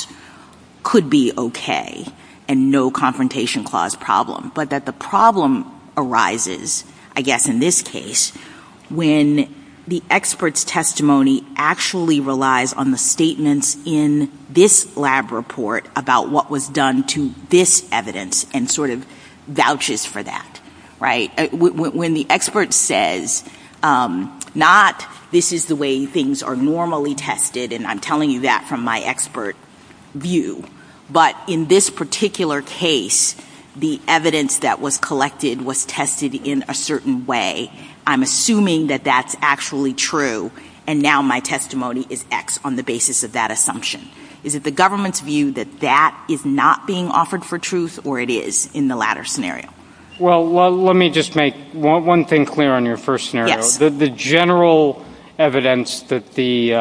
could be okay and no confrontation clause problem. But that the problem arises, I guess in this case, when the expert's testimony actually relies on the statements in this lab report about what was done to this evidence and sort of vouches for that, right? When the expert says, not this is the way things are normally tested, and I'm telling you that from my expert view, but in this particular case, the evidence that was collected was tested in a certain way. I'm assuming that that's actually true, and now my testimony is X on the basis of that assumption. Is it the government's view that that is not being offered for truth, or it is in the latter scenario? Well, let me just make one thing clear on your first scenario. The general evidence that the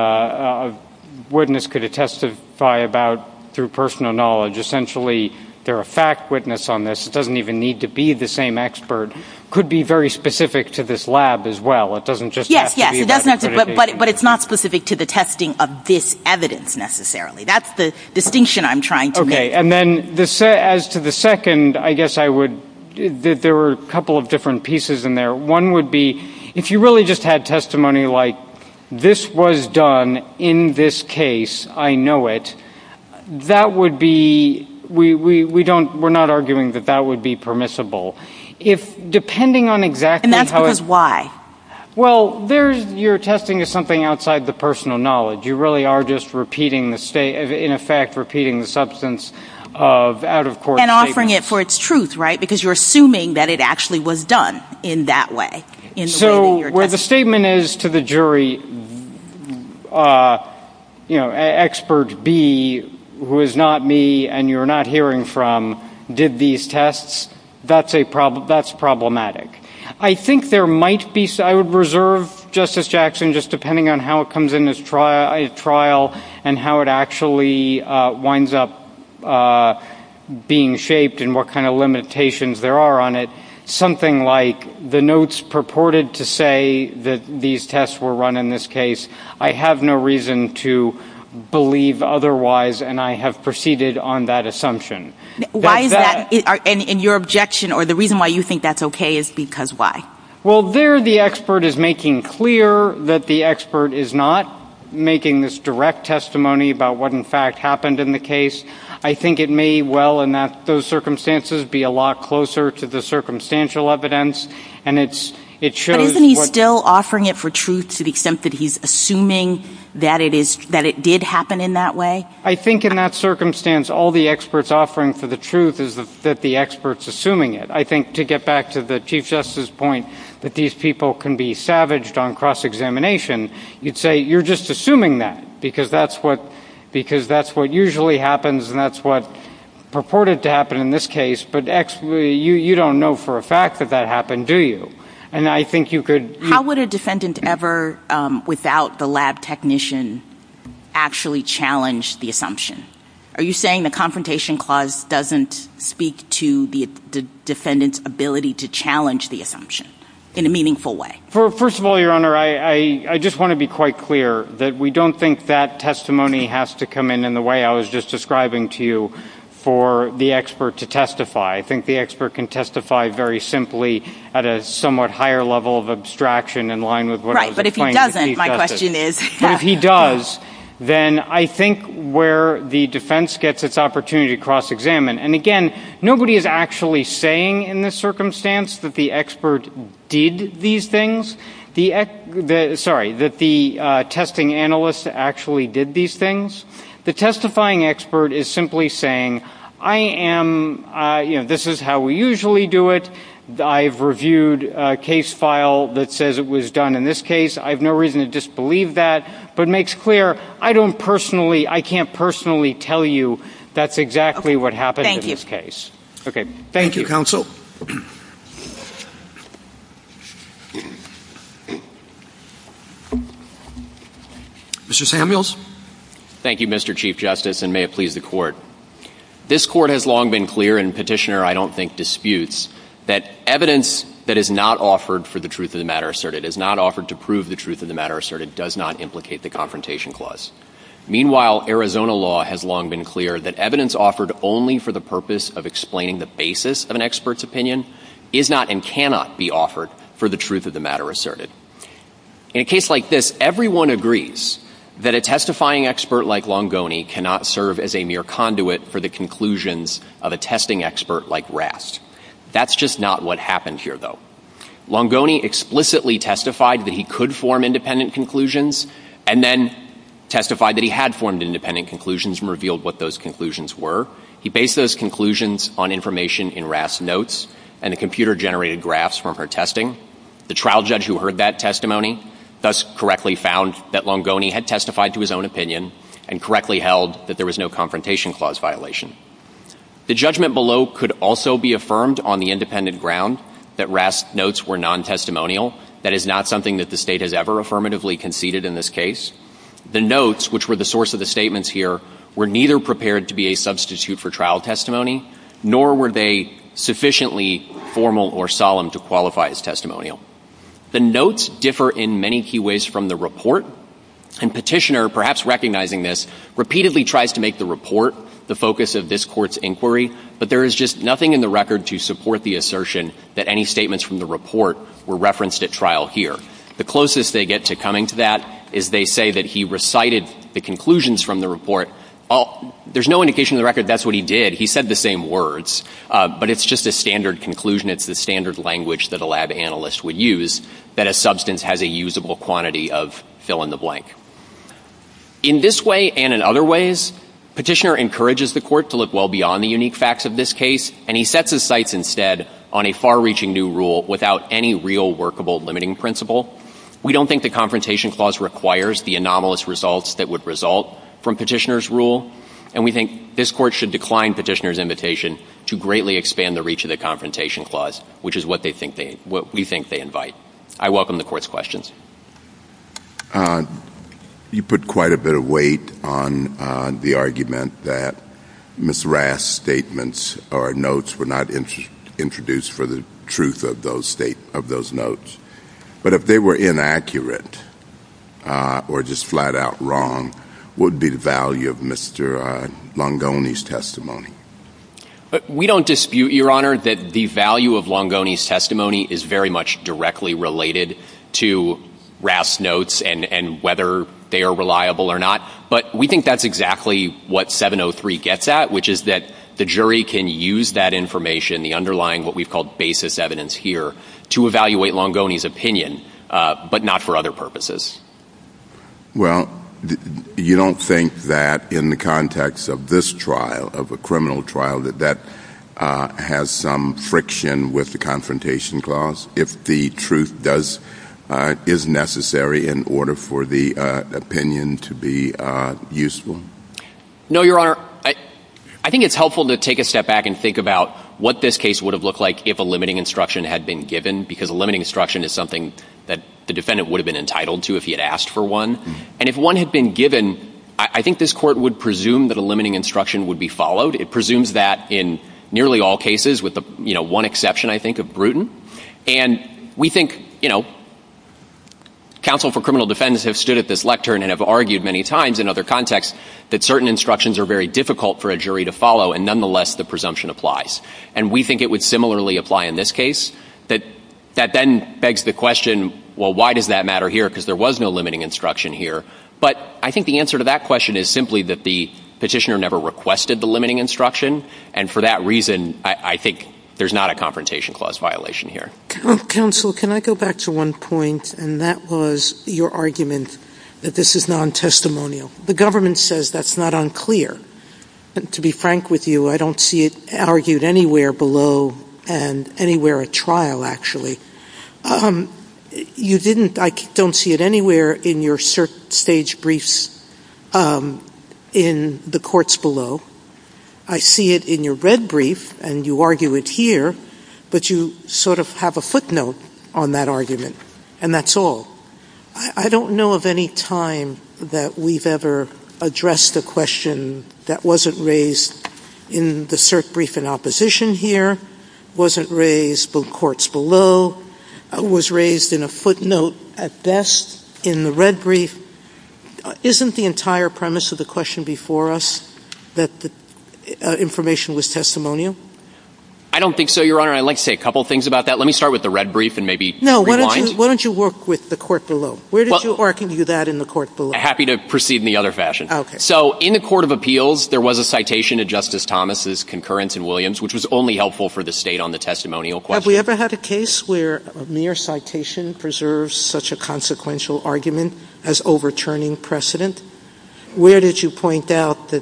witness could testify about through personal knowledge, essentially they're a fact witness on this, it doesn't even need to be the same expert, could be very specific to this lab as well. Yes, yes, but it's not specific to the testing of this evidence necessarily. That's the distinction I'm trying to make. Okay, and then as to the second, I guess I would, there were a couple of different pieces in there. One would be, if you really just had testimony like, this was done in this case, I know it, that would be, we're not arguing that that would be permissible. If, depending on exactly how... And that's because why? Well, you're testing something outside the personal knowledge. You really are just repeating the, in effect, repeating the substance of out-of-court statements. You're offering it for its truth, right, because you're assuming that it actually was done in that way. So where the statement is to the jury, you know, expert B, who is not me and you're not hearing from, did these tests, that's problematic. I think there might be, I would reserve, Justice Jackson, just depending on how it comes in this trial and how it actually winds up being shaped and what kind of limitations there are on it, something like the notes purported to say that these tests were run in this case, I have no reason to believe otherwise and I have proceeded on that assumption. Why is that? And your objection or the reason why you think that's okay is because why? Well, there the expert is making clear that the expert is not making this direct testimony about what, in fact, happened in the case. I think it may well, in those circumstances, be a lot closer to the circumstantial evidence. But isn't he still offering it for truth to the extent that he's assuming that it did happen in that way? I think in that circumstance, all the expert's offering for the truth is that the expert's assuming it. I think to get back to the Chief Justice's point that these people can be savaged on cross-examination, you'd say you're just assuming that because that's what usually happens and that's what purported to happen in this case, but you don't know for a fact that that happened, do you? How would a defendant ever, without the lab technician, actually challenge the assumption? Are you saying the Confrontation Clause doesn't speak to the defendant's ability to challenge the assumption in a meaningful way? First of all, Your Honor, I just want to be quite clear that we don't think that testimony has to come in in the way I was just describing to you for the expert to testify. I think the expert can testify very simply at a somewhat higher level of abstraction in line with what I was explaining to Chief Justice. Right, but if he doesn't, my question is? But if he does, then I think where the defense gets its opportunity to cross-examine, and again, nobody is actually saying in this circumstance that the expert did these things. Sorry, that the testing analyst actually did these things. The testifying expert is simply saying, this is how we usually do it. I've reviewed a case file that says it was done in this case. I have no reason to disbelieve that, but it makes clear I can't personally tell you that's exactly what happened in this case. Okay, thank you. Thank you, counsel. Mr. Samuels? Thank you, Mr. Chief Justice, and may it please the Court. This Court has long been clear, and Petitioner, I don't think, disputes, that evidence that is not offered for the truth of the matter asserted, is not offered to prove the truth of the matter asserted, does not implicate the Confrontation Clause. Meanwhile, Arizona law has long been clear that evidence offered only for the purpose of explaining the basis of an expert's opinion is not and cannot be offered for the truth of the matter asserted. In a case like this, everyone agrees that a testifying expert like Longoni cannot serve as a mere conduit for the conclusions of a testing expert like Rast. That's just not what happened here, though. Longoni explicitly testified that he could form independent conclusions, and then testified that he had formed independent conclusions and revealed what those conclusions were. He based those conclusions on information in Rast's notes, and a computer generated graphs from her testing. The trial judge who heard that testimony thus correctly found that Longoni had testified to his own opinion and correctly held that there was no Confrontation Clause violation. The judgment below could also be affirmed on the independent ground that Rast's notes were non-testimonial. That is not something that the state has ever affirmatively conceded in this case. The notes, which were the source of the statements here, were neither prepared to be a substitute for trial testimony, nor were they sufficiently formal or solemn to qualify as testimonial. The notes differ in many key ways from the report, and Petitioner, perhaps recognizing this, repeatedly tries to make the report the focus of this Court's inquiry, but there is just nothing in the record to support the assertion that any statements from the report were referenced at trial here. The closest they get to coming to that is they say that he recited the conclusions from the report. There's no indication in the record that's what he did. He said the same words. But it's just a standard conclusion. It's the standard language that a lab analyst would use, that a substance has a usable quantity of fill-in-the-blank. In this way and in other ways, Petitioner encourages the Court to look well beyond the unique facts of this case, and he sets his sights instead on a far-reaching new rule without any real workable limiting principle. We don't think the Confrontation Clause requires the anomalous results that would result from Petitioner's rule, and we think this Court should decline Petitioner's invitation to greatly expand the reach of the Confrontation Clause, which is what we think they invite. I welcome the Court's questions. You put quite a bit of weight on the argument that Ms. Rass's statements or notes were not introduced for the truth of those notes. But if they were inaccurate or just flat-out wrong, what would be the value of Mr. Longoni's testimony? We don't dispute, Your Honor, that the value of Longoni's testimony is very much directly related to Rass's notes and whether they are reliable or not, but we think that's exactly what 703 gets at, which is that the jury can use that information, the underlying what we've called basis evidence here, to evaluate Longoni's opinion, but not for other purposes. Well, you don't think that in the context of this trial, of a criminal trial, that that has some friction with the Confrontation Clause if the truth is necessary in order for the opinion to be useful? No, Your Honor. I think it's helpful to take a step back and think about what this case would have looked like if a limiting instruction had been given, because a limiting instruction is something that the defendant would have been entitled to if he had asked for one. And if one had been given, I think this Court would presume that a limiting instruction would be followed. It presumes that in nearly all cases, with one exception, I think, of Bruton. And we think, you know, counsel for criminal defendants have stood at this lectern and have argued many times in other contexts that certain instructions are very difficult for a jury to follow, and nonetheless, the presumption applies. And we think it would similarly apply in this case. That then begs the question, well, why does that matter here, because there was no limiting instruction here? But I think the answer to that question is simply that the petitioner never requested the limiting instruction, and for that reason, I think there's not a confrontation clause violation here. Counsel, can I go back to one point, and that was your argument that this is non-testimonial. The government says that's not unclear. To be frank with you, I don't see it argued anywhere below and anywhere at trial, actually. You didn't, I don't see it anywhere in your cert stage briefs in the courts below. I see it in your red brief, and you argue it here, but you sort of have a footnote on that argument, and that's all. I don't know of any time that we've ever addressed a question that wasn't raised in the cert brief in opposition here, wasn't raised both courts below, was raised in a footnote at best in the red brief. Isn't the entire premise of the question before us that the information was testimonial? I don't think so, Your Honor. I'd like to say a couple things about that. Let me start with the red brief and maybe rewind. No, why don't you work with the court below? Where did you argue that in the court below? I'm happy to proceed in the other fashion. So in the Court of Appeals, there was a citation of Justice Thomas' concurrence in Williams, which was only helpful for the state on the testimonial question. Have we ever had a case where mere citation preserves such a consequential argument as overturning precedent? Where did you point out that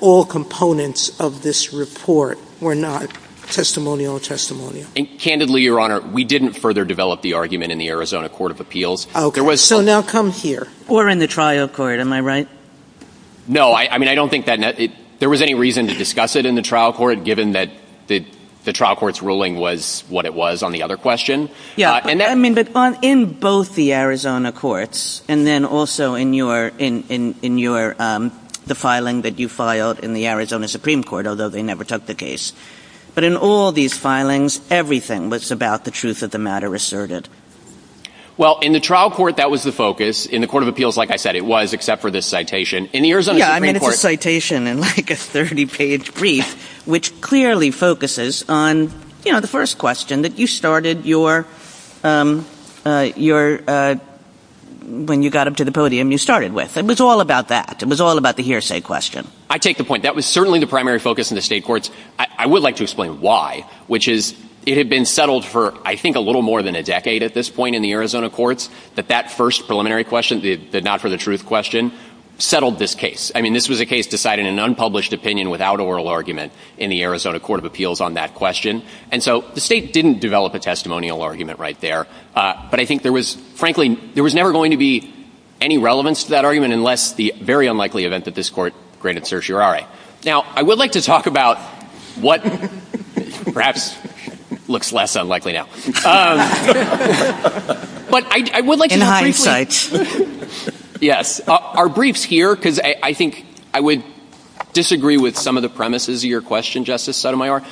all components of this report were not testimonial or testimonial? Candidly, Your Honor, we didn't further develop the argument in the Arizona Court of Appeals. Okay. So now come here. Or in the trial court. Am I right? No. I mean, I don't think that there was any reason to discuss it in the trial court, given that the trial court's ruling was what it was on the other question. Yeah. I mean, but in both the Arizona courts and then also in the filing that you filed in the Arizona Supreme Court, although they never took the case. But in all these filings, everything was about the truth of the matter asserted. Well, in the trial court, that was the focus. In the Court of Appeals, like I said, it was, except for this citation. Yeah. I mean, it was a citation in like a 30-page brief, which clearly focuses on, you know, the first question that you started your, when you got up to the podium, you started with. It was all about that. It was all about the hearsay question. I take the point. That was certainly the primary focus in the state courts. I would like to explain why, which is it had been settled for, I think, a little more than a decade at this point in the Arizona courts that that first preliminary question, the not for the truth question, settled this case. I mean, this was a case decided in an unpublished opinion without oral argument in the Arizona Court of Appeals on that question. And so the state didn't develop a testimonial argument right there. But I think there was, frankly, there was never going to be any relevance to that argument unless the very unlikely event that this court granted certiorari. Now, I would like to talk about what perhaps looks less unlikely now. But I would like. In hindsight. Yes. Our briefs here, because I think I would disagree with some of the premises of your question, Justice Sotomayor.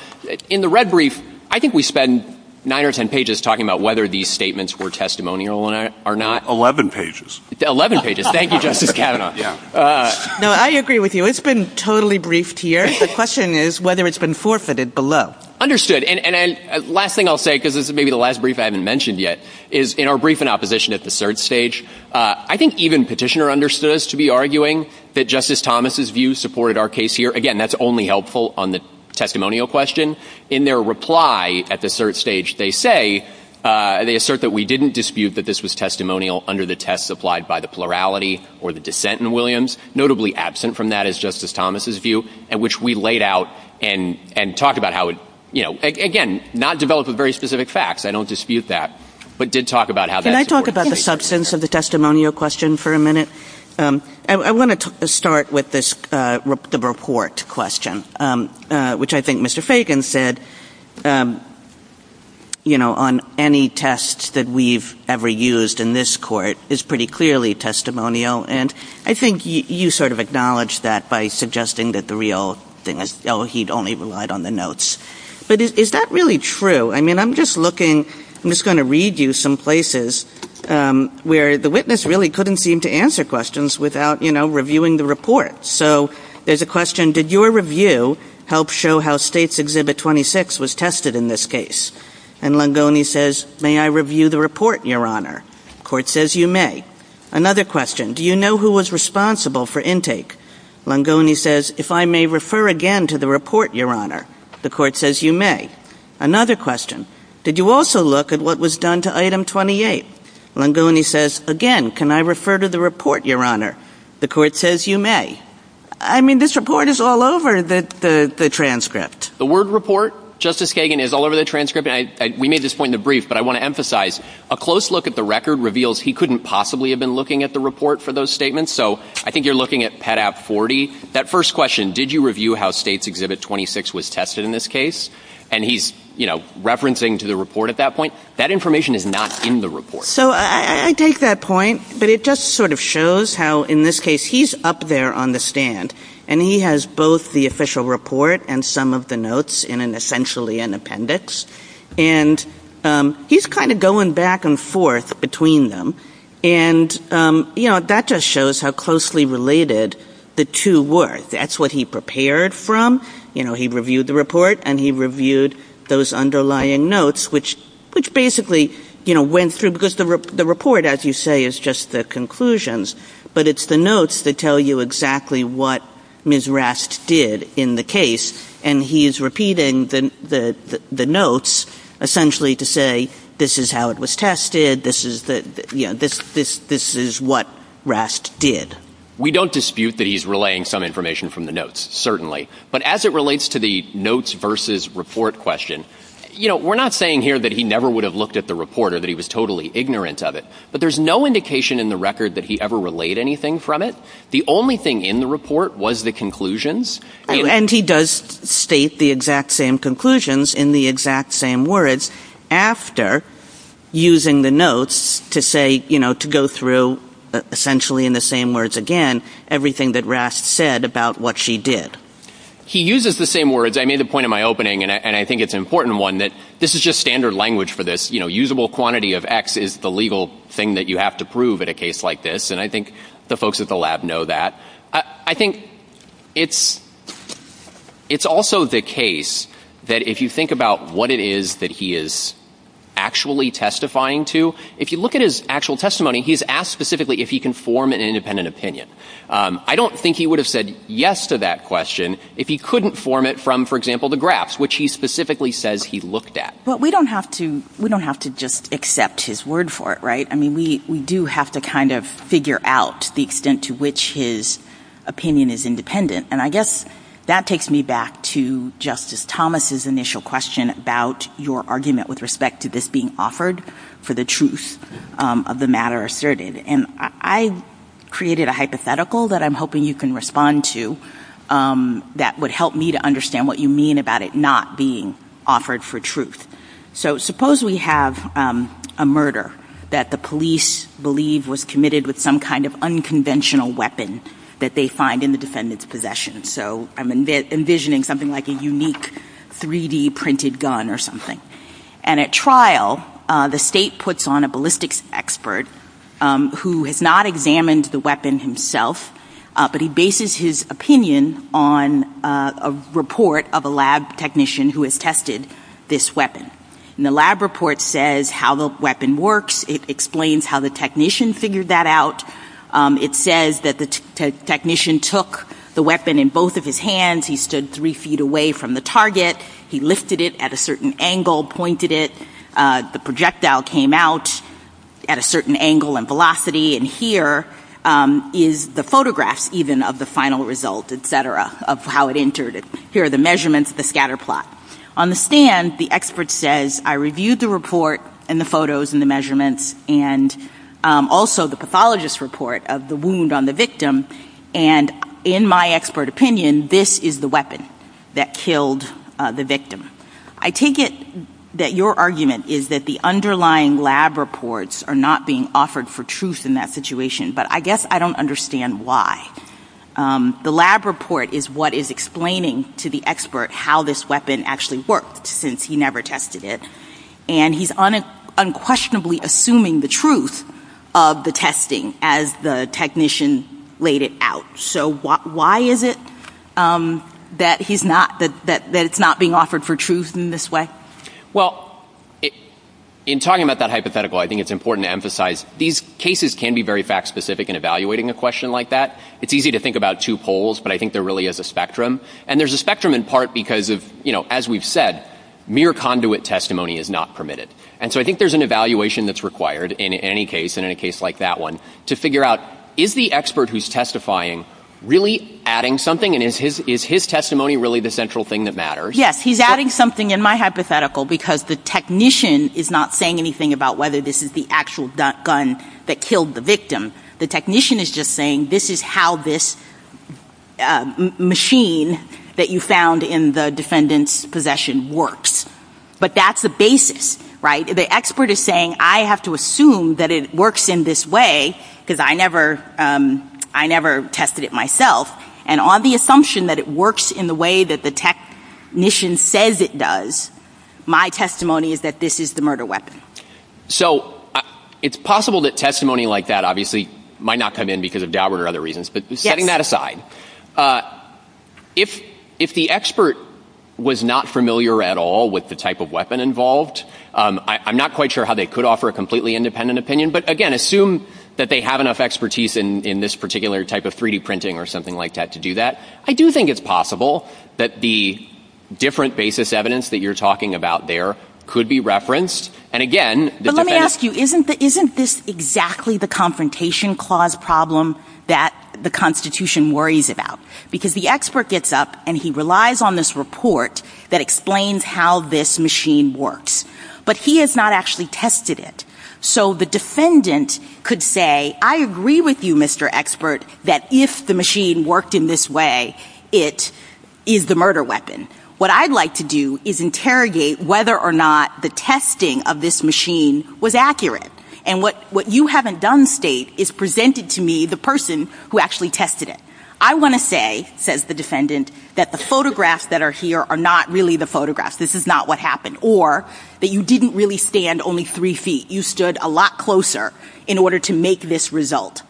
In the red brief, I think we spend nine or ten pages talking about whether these statements were testimonial or not. Eleven pages. Eleven pages. Thank you, Justice Kavanaugh. No, I agree with you. It's been totally briefed here. The question is whether it's been forfeited below. Understood. And last thing I'll say, because this is maybe the last brief I haven't mentioned yet, is in our brief in opposition at the third stage. I think even petitioner understood us to be arguing that Justice Thomas's view supported our case here. Again, that's only helpful on the testimonial question. In their reply at the third stage, they say they assert that we didn't dispute that this was testimonial under the test supplied by the plurality or the dissent in Williams. Notably absent from that is Justice Thomas's view, which we laid out and talked about how it, again, not developed with very specific facts. I don't dispute that, but did talk about how that supported the case. Can I talk about the substance of the testimonial question for a minute? I want to start with the report question, which I think Mr. Fagan said on any test that we've ever used in this court is pretty clearly testimonial. And I think you sort of acknowledged that by suggesting that the real thing is, oh, he'd only relied on the notes. But is that really true? I mean, I'm just looking, I'm just going to read you some places where the witness really couldn't seem to answer questions without, you know, reviewing the report. So there's a question, did your review help show how States Exhibit 26 was tested in this case? And Longoni says, may I review the report, Your Honor? Court says you may. Another question, do you know who was responsible for intake? Longoni says, if I may refer again to the report, Your Honor. The court says you may. Another question, did you also look at what was done to Item 28? Longoni says, again, can I refer to the report, Your Honor? The court says you may. I mean, this report is all over the transcript. The word report, Justice Kagan, is all over the transcript. We made this point in the brief, but I want to emphasize, a close look at the record reveals he couldn't possibly have been looking at the report for those statements. So I think you're looking at Pet App 40. That first question, did you review how States Exhibit 26 was tested in this case? And he's, you know, referencing to the report at that point. That information is not in the report. So I take that point, but it just sort of shows how, in this case, he's up there on the stand. And he has both the official report and some of the notes in an essentially an appendix. And he's kind of going back and forth between them. And, you know, that just shows how closely related the two were. That's what he prepared from. You know, he reviewed the report, and he reviewed those underlying notes, which basically, you know, went through. Because the report, as you say, is just the conclusions. But it's the notes that tell you exactly what Ms. Rast did in the case. And he is repeating the notes, essentially, to say this is how it was tested. This is what Rast did. We don't dispute that he's relaying some information from the notes, certainly. But as it relates to the notes versus report question, you know, we're not saying here that he never would have looked at the report or that he was totally ignorant of it. But there's no indication in the record that he ever relayed anything from it. The only thing in the report was the conclusions. And he does state the exact same conclusions in the exact same words after using the notes to say, you know, to go through, essentially, in the same words again, everything that Rast said about what she did. He uses the same words. I made the point in my opening, and I think it's an important one, that this is just standard language for this. You know, usable quantity of X is the legal thing that you have to prove in a case like this. And I think the folks at the lab know that. I think it's also the case that if you think about what it is that he is actually testifying to, if you look at his actual testimony, he's asked specifically if he can form an independent opinion. I don't think he would have said yes to that question if he couldn't form it from, for example, the graphs, which he specifically says he looked at. Well, we don't have to just accept his word for it, right? I mean, we do have to kind of figure out the extent to which his opinion is independent. And I guess that takes me back to Justice Thomas's initial question about your argument with respect to this being offered for the truth of the matter asserted. And I created a hypothetical that I'm hoping you can respond to that would help me to understand what you mean about it not being offered for truth. So suppose we have a murder that the police believe was committed with some kind of unconventional weapon that they find in the defendant's possession. So I'm envisioning something like a unique 3D printed gun or something. And at trial, the state puts on a ballistics expert who has not examined the weapon himself, but he bases his opinion on a report of a lab technician who has tested this weapon. And the lab report says how the weapon works. It explains how the technician figured that out. It says that the technician took the weapon in both of his hands. He stood three feet away from the target. He lifted it at a certain angle, pointed it. The projectile came out at a certain angle and velocity. And here is the photograph even of the final result, et cetera, of how it entered. Here are the measurements of the scatter plot. On the stand, the expert says, I reviewed the report and the photos and the measurements and also the pathologist's report of the wound on the victim. And in my expert opinion, this is the weapon that killed the victim. I take it that your argument is that the underlying lab reports are not being offered for truth in that situation. But I guess I don't understand why. The lab report is what is explaining to the expert how this weapon actually worked since he never tested it. And he's unquestionably assuming the truth of the testing as the technician laid it out. So why is it that it's not being offered for truth in this way? Well, in talking about that hypothetical, I think it's important to emphasize these cases can be very fact specific in evaluating a question like that. It's easy to think about two poles, but I think there really is a spectrum. And there's a spectrum in part because, as we've said, mere conduit testimony is not permitted. And so I think there's an evaluation that's required in any case and in a case like that one to figure out, is the expert who's testifying really adding something? And is his testimony really the central thing that matters? Yes, he's adding something in my hypothetical because the technician is not saying anything about whether this is the actual gun that killed the victim. The technician is just saying this is how this machine that you found in the defendant's possession works. But that's the basis, right? The expert is saying I have to assume that it works in this way because I never tested it myself. And on the assumption that it works in the way that the technician says it does, my testimony is that this is the murder weapon. So it's possible that testimony like that obviously might not come in because of Daubert or other reasons. But setting that aside, if the expert was not familiar at all with the type of weapon involved, I'm not quite sure how they could offer a completely independent opinion. But again, assume that they have enough expertise in this particular type of 3D printing or something like that to do that. I do think it's possible that the different basis evidence that you're talking about there could be referenced. But let me ask you, isn't this exactly the confrontation clause problem that the Constitution worries about? Because the expert gets up and he relies on this report that explains how this machine works. But he has not actually tested it. So the defendant could say, I agree with you, Mr. Expert, that if the machine worked in this way, it is the murder weapon. What I'd like to do is interrogate whether or not the testing of this machine was accurate. And what you haven't done, State, is presented to me the person who actually tested it. I want to say, says the defendant, that the photographs that are here are not really the photographs. This is not what happened. Or that you didn't really stand only three feet. You stood a lot closer in order to make this result.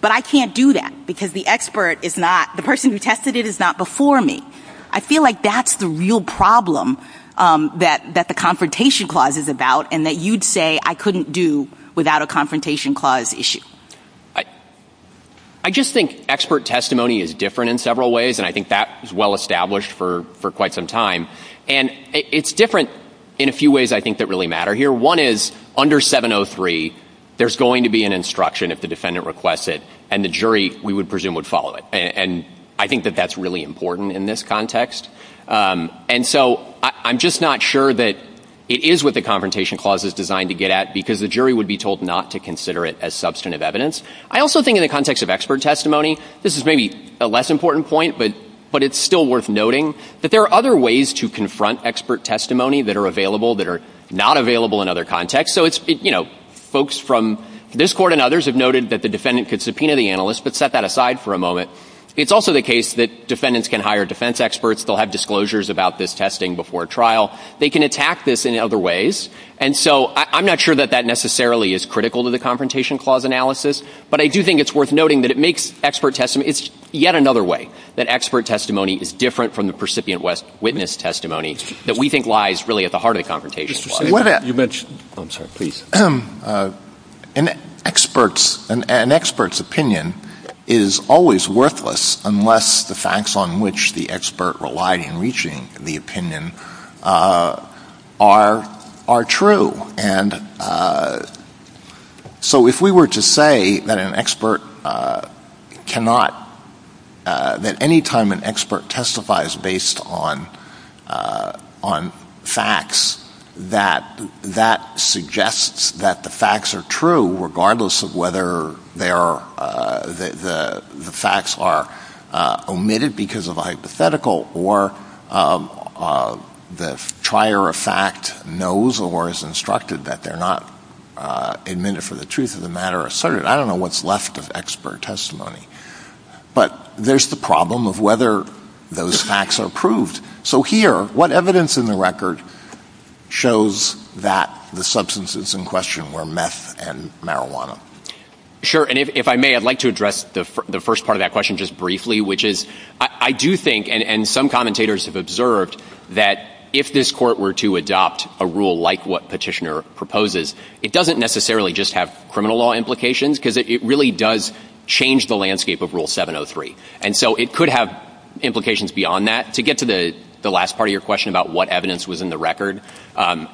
But I can't do that because the expert is not, the person who tested it is not before me. I feel like that's the real problem that the confrontation clause is about, and that you'd say I couldn't do without a confrontation clause issue. I just think expert testimony is different in several ways, and I think that is well established for quite some time. And it's different in a few ways I think that really matter here. One is, under 703, there's going to be an instruction if the defendant requests it, and the jury, we would presume, would follow it. And I think that that's really important in this context. And so I'm just not sure that it is what the confrontation clause is designed to get at, because the jury would be told not to consider it as substantive evidence. I also think in the context of expert testimony, this is maybe a less important point, but it's still worth noting, that there are other ways to confront expert testimony that are available that are not available in other contexts. Folks from this court and others have noted that the defendant could subpoena the analyst, but set that aside for a moment. It's also the case that defendants can hire defense experts. They'll have disclosures about this testing before trial. They can attack this in other ways. And so I'm not sure that that necessarily is critical to the confrontation clause analysis, but I do think it's worth noting that it makes expert testimony, it's yet another way that expert testimony is different from the percipient witness testimony that we think lies really at the heart of the confrontation clause. I'm sorry, please. An expert's opinion is always worthless unless the facts on which the expert relied in reaching the opinion are true. And so if we were to say that any time an expert testifies based on facts, that that suggests that the facts are true regardless of whether the facts are omitted because of a hypothetical or the trier of fact knows or is instructed that they're not admitted for the truth of the matter asserted, I don't know what's left of expert testimony. But there's the problem of whether those facts are proved. So here, what evidence in the record shows that the substances in question were meth and marijuana? Sure, and if I may, I'd like to address the first part of that question just briefly, which is I do think, and some commentators have observed, that if this court were to adopt a rule like what Petitioner proposes, it doesn't necessarily just have criminal law implications because it really does change the landscape of Rule 703. And so it could have implications beyond that. To get to the last part of your question about what evidence was in the record, I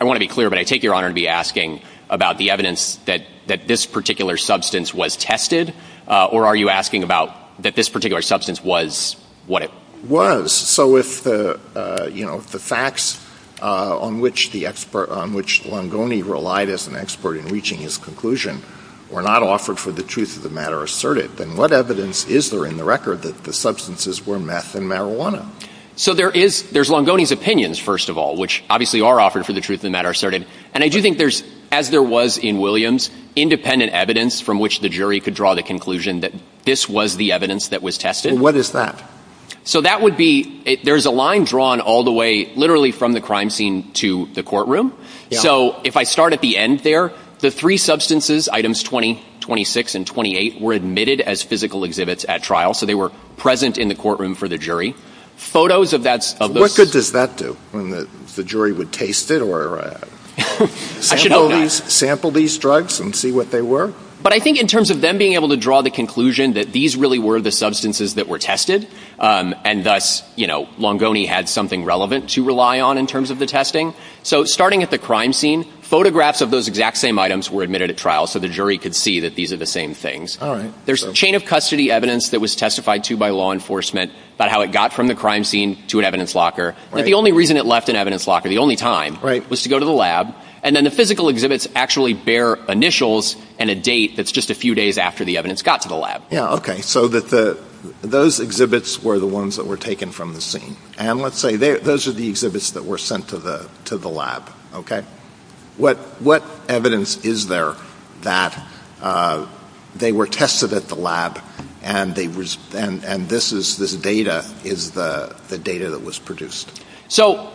want to be clear, but I take your honor to be asking about the evidence that this particular substance was tested, or are you asking about that this particular substance was what it was? So if the facts on which Longoni relied as an expert in reaching his conclusion were not offered for the truth of the matter asserted, then what evidence is there in the record that the substances were meth and marijuana? So there's Longoni's opinions, first of all, which obviously are offered for the truth of the matter asserted. And I do think there's, as there was in Williams, independent evidence from which the jury could draw the conclusion that this was the evidence that was tested. What is that? So that would be, there's a line drawn all the way literally from the crime scene to the courtroom. So if I start at the end there, the three substances, items 20, 26, and 28, were admitted as physical exhibits at trial, so they were present in the courtroom for the jury. What good does that do? The jury would taste it or whatever. Sample these drugs and see what they were? But I think in terms of them being able to draw the conclusion that these really were the substances that were tested, and thus Longoni had something relevant to rely on in terms of the testing. So starting at the crime scene, photographs of those exact same items were admitted at trial so the jury could see that these are the same things. There's a chain of custody evidence that was testified to by law enforcement about how it got from the crime scene to an evidence locker. The only reason it left an evidence locker, the only time, was to go to the lab. And then the physical exhibits actually bear initials and a date that's just a few days after the evidence got to the lab. So those exhibits were the ones that were taken from the scene. And let's say those are the exhibits that were sent to the lab. What evidence is there that they were tested at the lab and this data is the data that was produced? So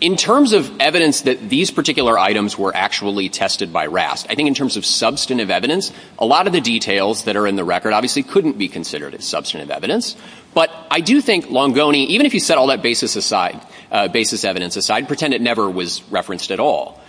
in terms of evidence that these particular items were actually tested by RASC, I think in terms of substantive evidence, a lot of the details that are in the record obviously couldn't be considered as substantive evidence. But I do think Longoni, even if you set all that basis evidence aside, pretend it never was referenced at all.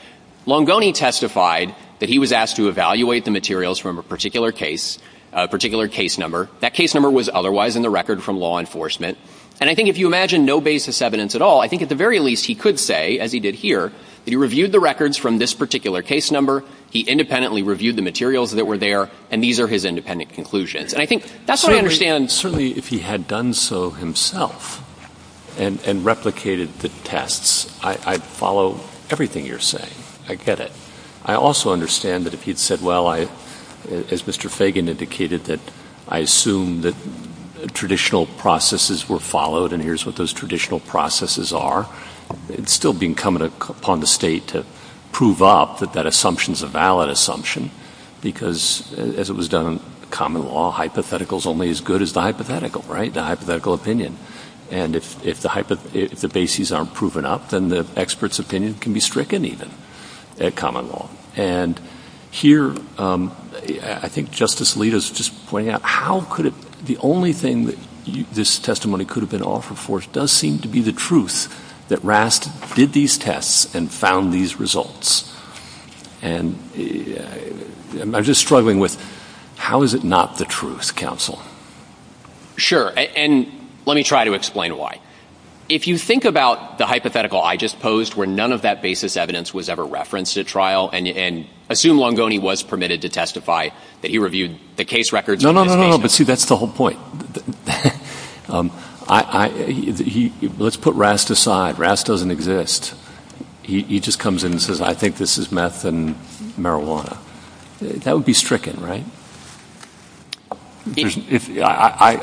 Longoni testified that he was asked to evaluate the materials from a particular case, a particular case number. That case number was otherwise in the record from law enforcement. And I think if you imagine no basis evidence at all, I think at the very least he could say, as he did here, that he reviewed the records from this particular case number, he independently reviewed the materials that were there, and these are his independent conclusions. Certainly if he had done so himself and replicated the tests, I'd follow everything you're saying. I get it. I also understand that if he'd said, well, as Mr. Fagan indicated, that I assume that traditional processes were followed and here's what those traditional processes are, it's still being come upon the state to prove up that that assumption is a valid assumption because, as it was done in common law, hypothetical is only as good as the hypothetical, right, the hypothetical opinion. And if the bases aren't proven up, then the expert's opinion can be stricken even at common law. And here I think Justice Alito is just pointing out, the only thing that this testimony could have been offered for does seem to be the truth that RASC did these tests and found these results. And I'm just struggling with how is it not the truth, counsel? Sure, and let me try to explain why. If you think about the hypothetical I just posed where none of that basis evidence was ever referenced at trial and assume Longoni was permitted to testify that he reviewed the case records. No, no, no, no, but see, that's the whole point. Let's put RASC aside. RASC doesn't exist. He just comes in and says, I think this is meth and marijuana. That would be stricken, right?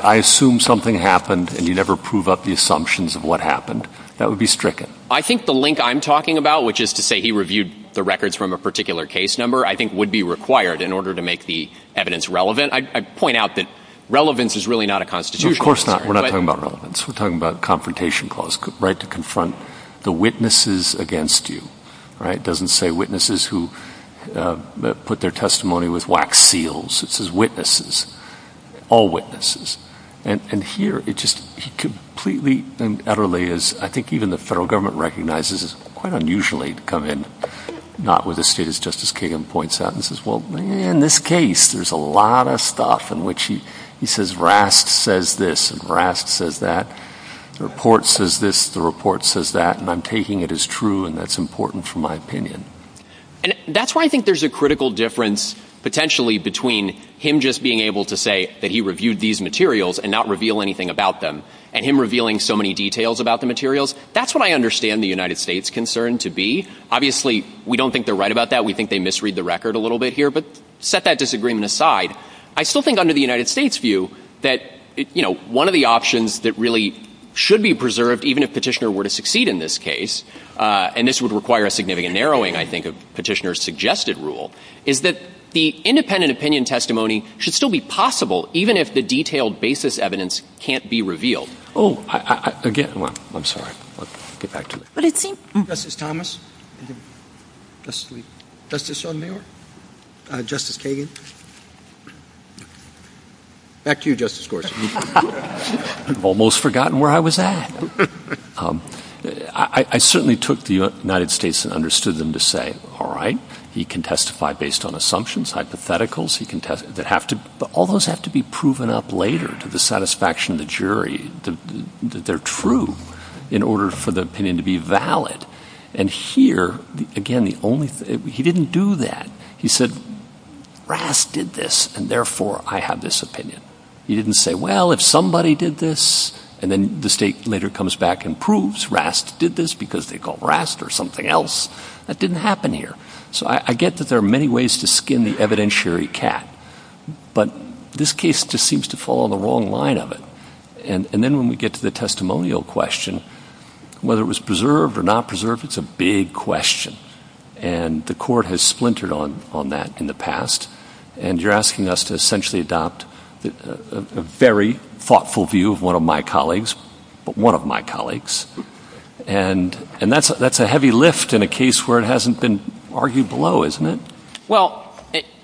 I assume something happened and he'd never prove up the assumptions of what happened. That would be stricken. I think the link I'm talking about, which is to say he reviewed the records from a particular case number, I think would be required in order to make the evidence relevant. I'd point out that relevance is really not a constitutional requirement. No, of course not. We're not talking about relevance. We're talking about confrontation clause, right, to confront the witnesses against you, right? It doesn't say witnesses who put their testimony with wax seals. It says witnesses, all witnesses. And here, he completely and utterly is, I think even the federal government recognizes, it's quite unusual for him to come in, not with a suit, as Justice Kagan points out, and says, well, in this case, there's a lot of stuff in which he says RASC says this and RASC says that, the report says this, the report says that, and I'm taking it as true and that's important for my opinion. And that's why I think there's a critical difference, potentially, between him just being able to say that he reviewed these materials and not reveal anything about them, and him revealing so many details about the materials. That's what I understand the United States' concern to be. Obviously, we don't think they're right about that. We think they misread the record a little bit here, but set that disagreement aside. I still think under the United States' view that, you know, one of the options that really should be preserved, even if Petitioner were to succeed in this case, and this would require a significant narrowing, I think, of Petitioner's suggested rule, is that the independent opinion testimony should still be possible, even if the detailed basis evidence can't be revealed. Oh, again, I'm sorry. Justice Thomas? Justice Sotomayor? Justice Kagan? Back to you, Justice Gorsuch. I've almost forgotten where I was at. I certainly took the United States and understood them to say, all right, he can testify based on assumptions, hypotheticals, but all those have to be proven up later to the satisfaction of the jury that they're true in order for the opinion to be valid. And here, again, he didn't do that. He said, Rast did this, and therefore I have this opinion. He didn't say, well, if somebody did this, and then the state later comes back and proves Rast did this because they called Rast or something else. That didn't happen here. So I get that there are many ways to skin the evidentiary cat, but this case just seems to fall on the wrong line of it. And then when we get to the testimonial question, whether it was preserved or not preserved, it's a big question, and the Court has splintered on that in the past, and you're asking us to essentially adopt a very thoughtful view of one of my colleagues, and that's a heavy lift in a case where it hasn't been argued below, isn't it? Well,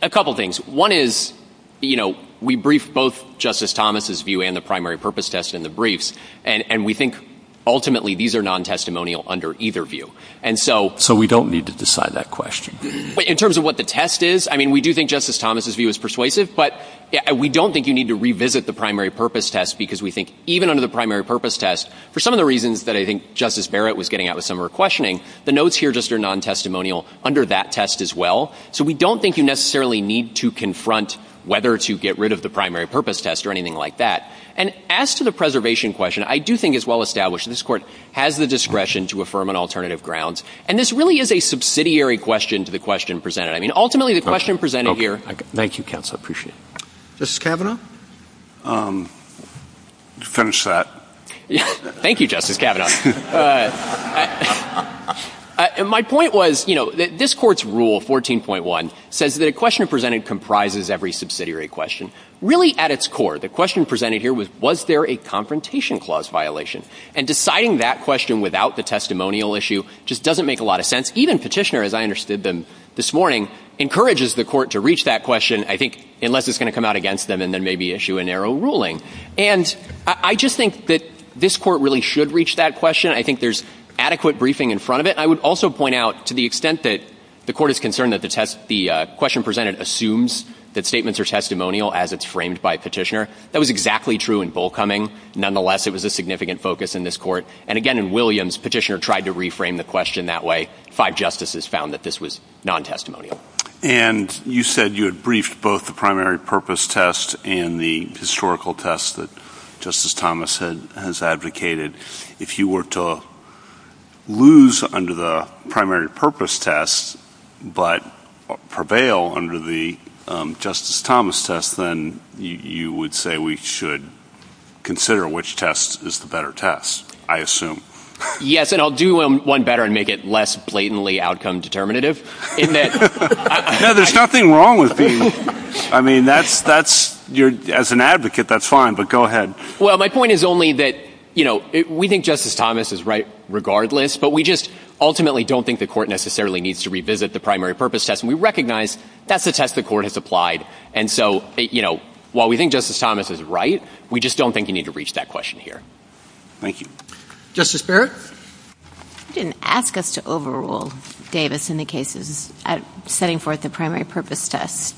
a couple things. One is, you know, we briefed both Justice Thomas' view and the primary purpose test in the briefs, and we think ultimately these are non-testimonial under either view. So we don't need to decide that question. In terms of what the test is, I mean, we do think Justice Thomas' view is persuasive, but we don't think you need to revisit the primary purpose test because we think even under the primary purpose test, for some of the reasons that I think Justice Barrett was getting at with some of her questioning, the notes here just are non-testimonial under that test as well. So we don't think you necessarily need to confront whether to get rid of the primary purpose test or anything like that. And as to the preservation question, I do think it's well established this Court has the discretion to affirm on alternative grounds, and this really is a subsidiary question to the question presented. I mean, ultimately the question presented here... Thank you, counsel. I appreciate it. Justice Kavanaugh? Finish that. Thank you, Justice Kavanaugh. My point was, you know, this Court's rule, 14.1, says that a question presented comprises every subsidiary question. Really at its core, the question presented here was, was there a confrontation clause violation? And deciding that question without the testimonial issue just doesn't make a lot of sense. Even Petitioner, as I understood them this morning, encourages the Court to reach that question, I think, unless it's going to come out against them and then maybe issue a narrow ruling. And I just think that this Court really should reach that question. I think there's adequate briefing in front of it. I would also point out, to the extent that the Court is concerned that the question presented assumes that statements are testimonial as it's framed by Petitioner, that was exactly true in Bullcoming. Nonetheless, it was a significant focus in this Court. And again, in Williams, Petitioner tried to reframe the question that way. Five justices found that this was non-testimonial. And you said you had briefed both the primary purpose test and the historical test that Justice Thomas has advocated. If you were to lose under the primary purpose test but prevail under the Justice Thomas test, then you would say we should consider which test is the better test, I assume. Yes, and I'll do one better and make it less blatantly outcome determinative. No, there's nothing wrong with being— I mean, as an advocate, that's fine, but go ahead. Well, my point is only that, you know, we think Justice Thomas is right regardless, but we just ultimately don't think the Court necessarily needs to revisit the primary purpose test. And we recognize that's a test the Court has applied. And so, you know, while we think Justice Thomas is right, we just don't think you need to reach that question here. Thank you. Justice Barrett? You didn't ask us to overrule Davis in the case of setting forth the primary purpose test.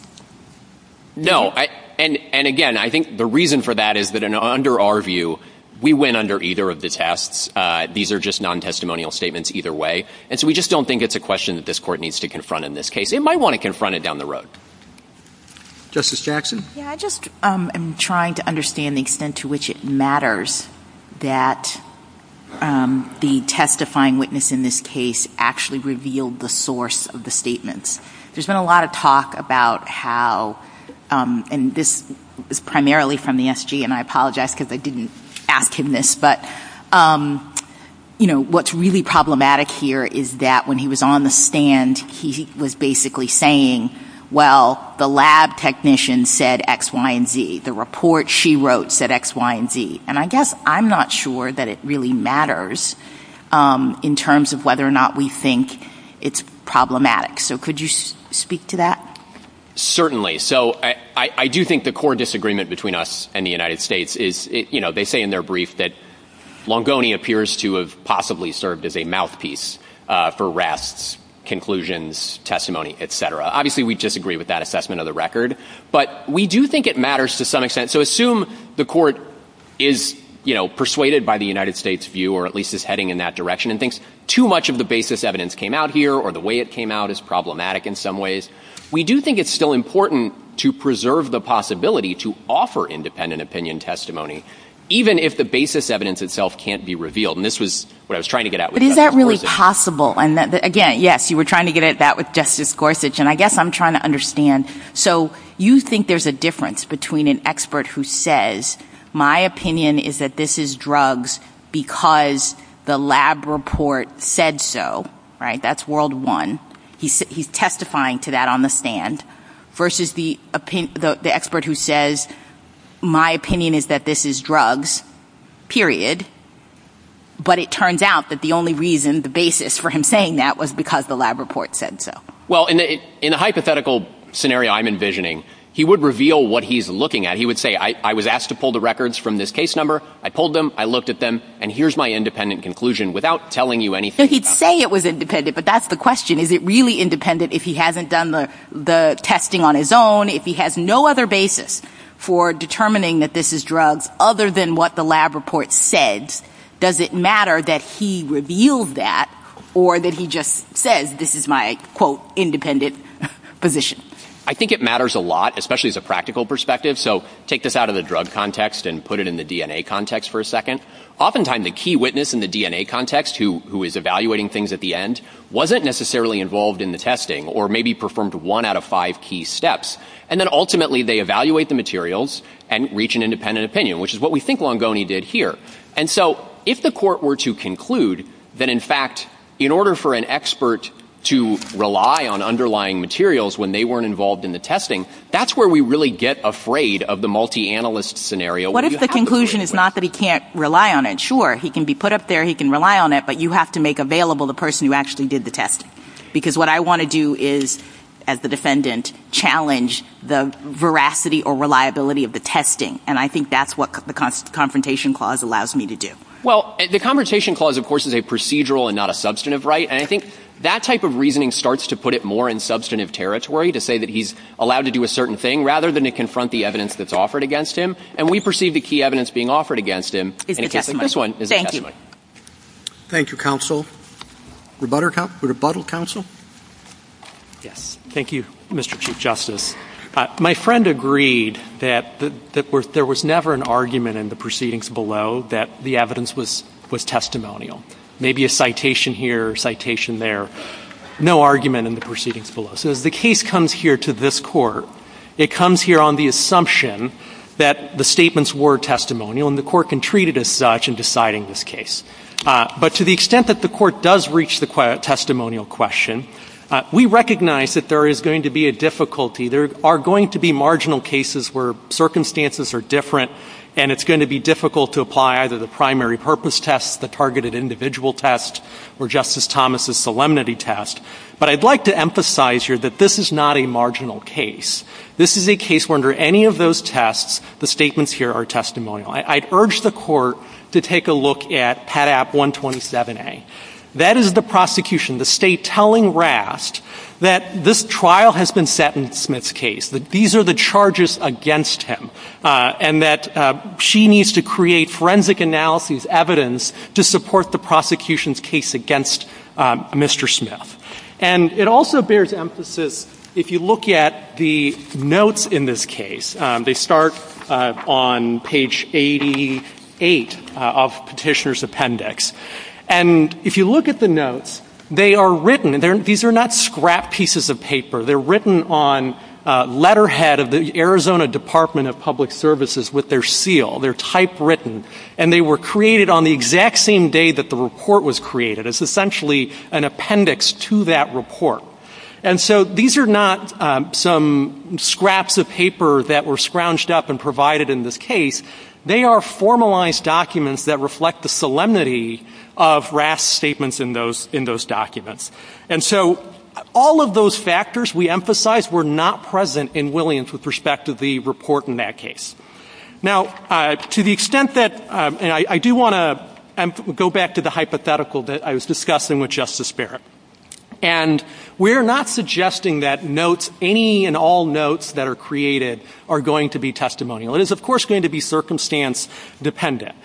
No, and again, I think the reason for that is that under our view, we went under either of the tests. These are just non-testimonial statements either way. And so we just don't think it's a question that this Court needs to confront in this case. It might want to confront it down the road. Justice Jackson? Yeah, I just am trying to understand the extent to which it matters that the testifying witness in this case actually revealed the source of the statements. There's been a lot of talk about how, and this is primarily from the SG, and I apologize because I didn't act in this, but, you know, what's really problematic here is that when he was on the stand, he was basically saying, well, the lab technician said X, Y, and Z. The report she wrote said X, Y, and Z. And I guess I'm not sure that it really matters in terms of whether or not we think it's problematic. So could you speak to that? Certainly. So I do think the core disagreement between us and the United States is, you know, they say in their brief that Longoni appears to have possibly served as a mouthpiece for rests, conclusions, testimony, et cetera. Obviously, we disagree with that assessment of the record. But we do think it matters to some extent. So assume the court is, you know, persuaded by the United States view or at least is heading in that direction and thinks too much of the basis evidence came out here or the way it came out is problematic in some ways. We do think it's still important to preserve the possibility to offer independent opinion testimony, even if the basis evidence itself can't be revealed. And this was what I was trying to get at with Justice Gorsuch. But is that really possible? And, again, yes, you were trying to get at that with Justice Gorsuch, and I guess I'm trying to understand. So you think there's a difference between an expert who says, my opinion is that this is drugs because the lab report said so, right? That's world one. He's testifying to that on the stand versus the expert who says, my opinion is that this is drugs, period. But it turns out that the only reason, the basis for him saying that, was because the lab report said so. Well, in a hypothetical scenario I'm envisioning, he would reveal what he's looking at. He would say, I was asked to pull the records from this case number. I pulled them. I looked at them, and here's my independent conclusion without telling you anything. He'd say it was independent, but that's the question. Is it really independent if he hasn't done the testing on his own? If he has no other basis for determining that this is drugs other than what the lab report said, does it matter that he revealed that or that he just says, this is my, quote, independent position? I think it matters a lot, especially as a practical perspective. So take this out of the drug context and put it in the DNA context for a second. Oftentimes the key witness in the DNA context, who is evaluating things at the end, wasn't necessarily involved in the testing or maybe performed one out of five key steps. And then ultimately they evaluate the materials and reach an independent opinion, which is what we think Longoni did here. And so if the court were to conclude that, in fact, in order for an expert to rely on underlying materials when they weren't involved in the testing, that's where we really get afraid of the multi-analyst scenario. What if the conclusion is not that he can't rely on it? Sure, he can be put up there, he can rely on it, but you have to make available the person who actually did the test. Because what I want to do is, as the defendant, challenge the veracity or reliability of the testing. And I think that's what the Confrontation Clause allows me to do. Well, the Confrontation Clause, of course, is a procedural and not a substantive right. And I think that type of reasoning starts to put it more in substantive territory, to say that he's allowed to do a certain thing, rather than to confront the evidence that's offered against him. And we perceive the key evidence being offered against him in the case of this one is a testimony. Thank you. Thank you, counsel. Rebuttal, counsel? Yes. Thank you, Mr. Chief Justice. My friend agreed that there was never an argument in the proceedings below that the evidence was testimonial. Maybe a citation here, a citation there. No argument in the proceedings below. So the case comes here to this court. It comes here on the assumption that the statements were testimonial, and the court can treat it as such in deciding this case. But to the extent that the court does reach the testimonial question, we recognize that there is going to be a difficulty. There are going to be marginal cases where circumstances are different, and it's going to be difficult to apply either the primary purpose test, the targeted individual test, or Justice Thomas' solemnity test. But I'd like to emphasize here that this is not a marginal case. This is a case where, under any of those tests, the statements here are testimonial. I'd urge the court to take a look at PATAP 127A. That is the prosecution, the state telling Rast that this trial has been set in Smith's case, that these are the charges against him, and that she needs to create forensic analysis evidence to support the prosecution's case against Mr. Smith. And it also bears emphasis, if you look at the notes in this case, they start on page 88 of Petitioner's Appendix. And if you look at the notes, they are written. These are not scrap pieces of paper. They're written on letterhead of the Arizona Department of Public Services with their seal. They're typewritten, and they were created on the exact same day that the report was created. It's essentially an appendix to that report. And so these are not some scraps of paper that were scrounged up and provided in this case. They are formalized documents that reflect the solemnity of Rast's statements in those documents. And so all of those factors, we emphasize, were not present in Williams with respect to the report in that case. Now, to the extent that, and I do want to go back to the hypothetical that I was discussing with Justice Barrett. And we're not suggesting that notes, any and all notes that are created, are going to be testimonial. It is, of course, going to be circumstance dependent.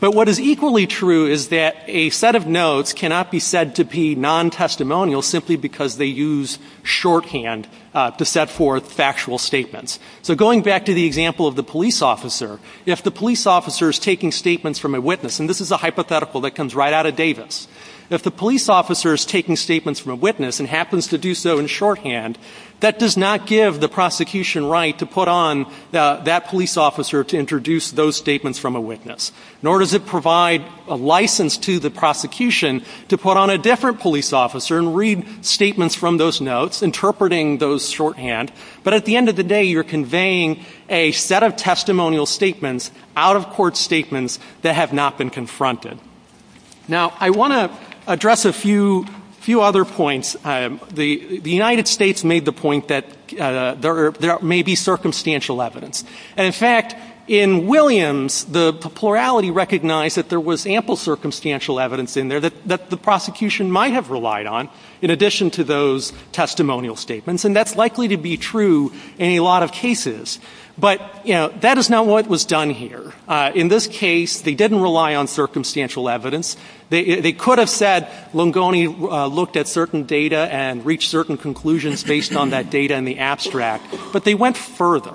But what is equally true is that a set of notes cannot be said to be non-testimonial simply because they use shorthand to set forth factual statements. So going back to the example of the police officer, if the police officer is taking statements from a witness, and this is a hypothetical that comes right out of Davis, if the police officer is taking statements from a witness and happens to do so in shorthand, that does not give the prosecution right to put on that police officer to introduce those statements from a witness. Nor does it provide a license to the prosecution to put on a different police officer and read statements from those notes, interpreting those shorthand. But at the end of the day, you're conveying a set of testimonial statements, out-of-court statements, that have not been confronted. Now, I want to address a few other points. The United States made the point that there may be circumstantial evidence. And, in fact, in Williams, the plurality recognized that there was ample circumstantial evidence in there that the prosecution might have relied on in addition to those testimonial statements, and that's likely to be true in a lot of cases. But, you know, that is not what was done here. In this case, they didn't rely on circumstantial evidence. They could have said Lungoni looked at certain data and reached certain conclusions based on that data in the abstract, but they went further.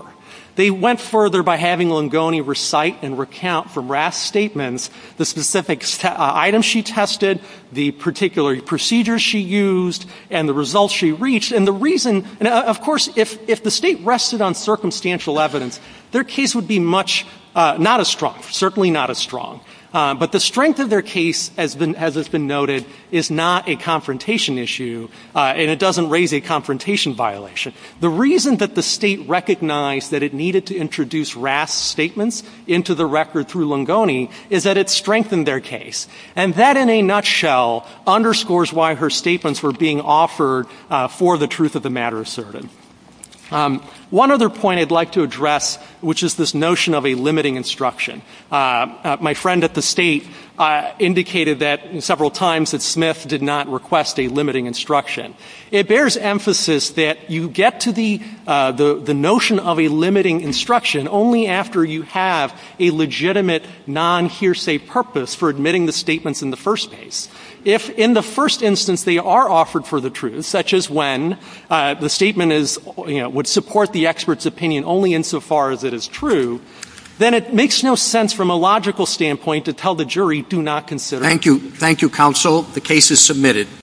They went further by having Lungoni recite and recount from Rath's statements the specific items she tested, the particular procedures she used, and the results she reached. And the reason, of course, if the state rested on circumstantial evidence, their case would be not as strong, certainly not as strong. But the strength of their case, as has been noted, is not a confrontation issue, and it doesn't raise a confrontation violation. The reason that the state recognized that it needed to introduce Rath's statements into the record through Lungoni is that it strengthened their case. And that, in a nutshell, underscores why her statements were being offered for the truth of the matter asserted. One other point I'd like to address, which is this notion of a limiting instruction. My friend at the state indicated that several times that Smith did not request a limiting instruction. It bears emphasis that you get to the notion of a limiting instruction only after you have a legitimate non-hearsay purpose for admitting the statements in the first place. If, in the first instance, they are offered for the truth, such as when the statement would support the expert's opinion only insofar as it is true, then it makes no sense from a logical standpoint to tell the jury, do not consider it. Thank you. Thank you, counsel. The case is submitted.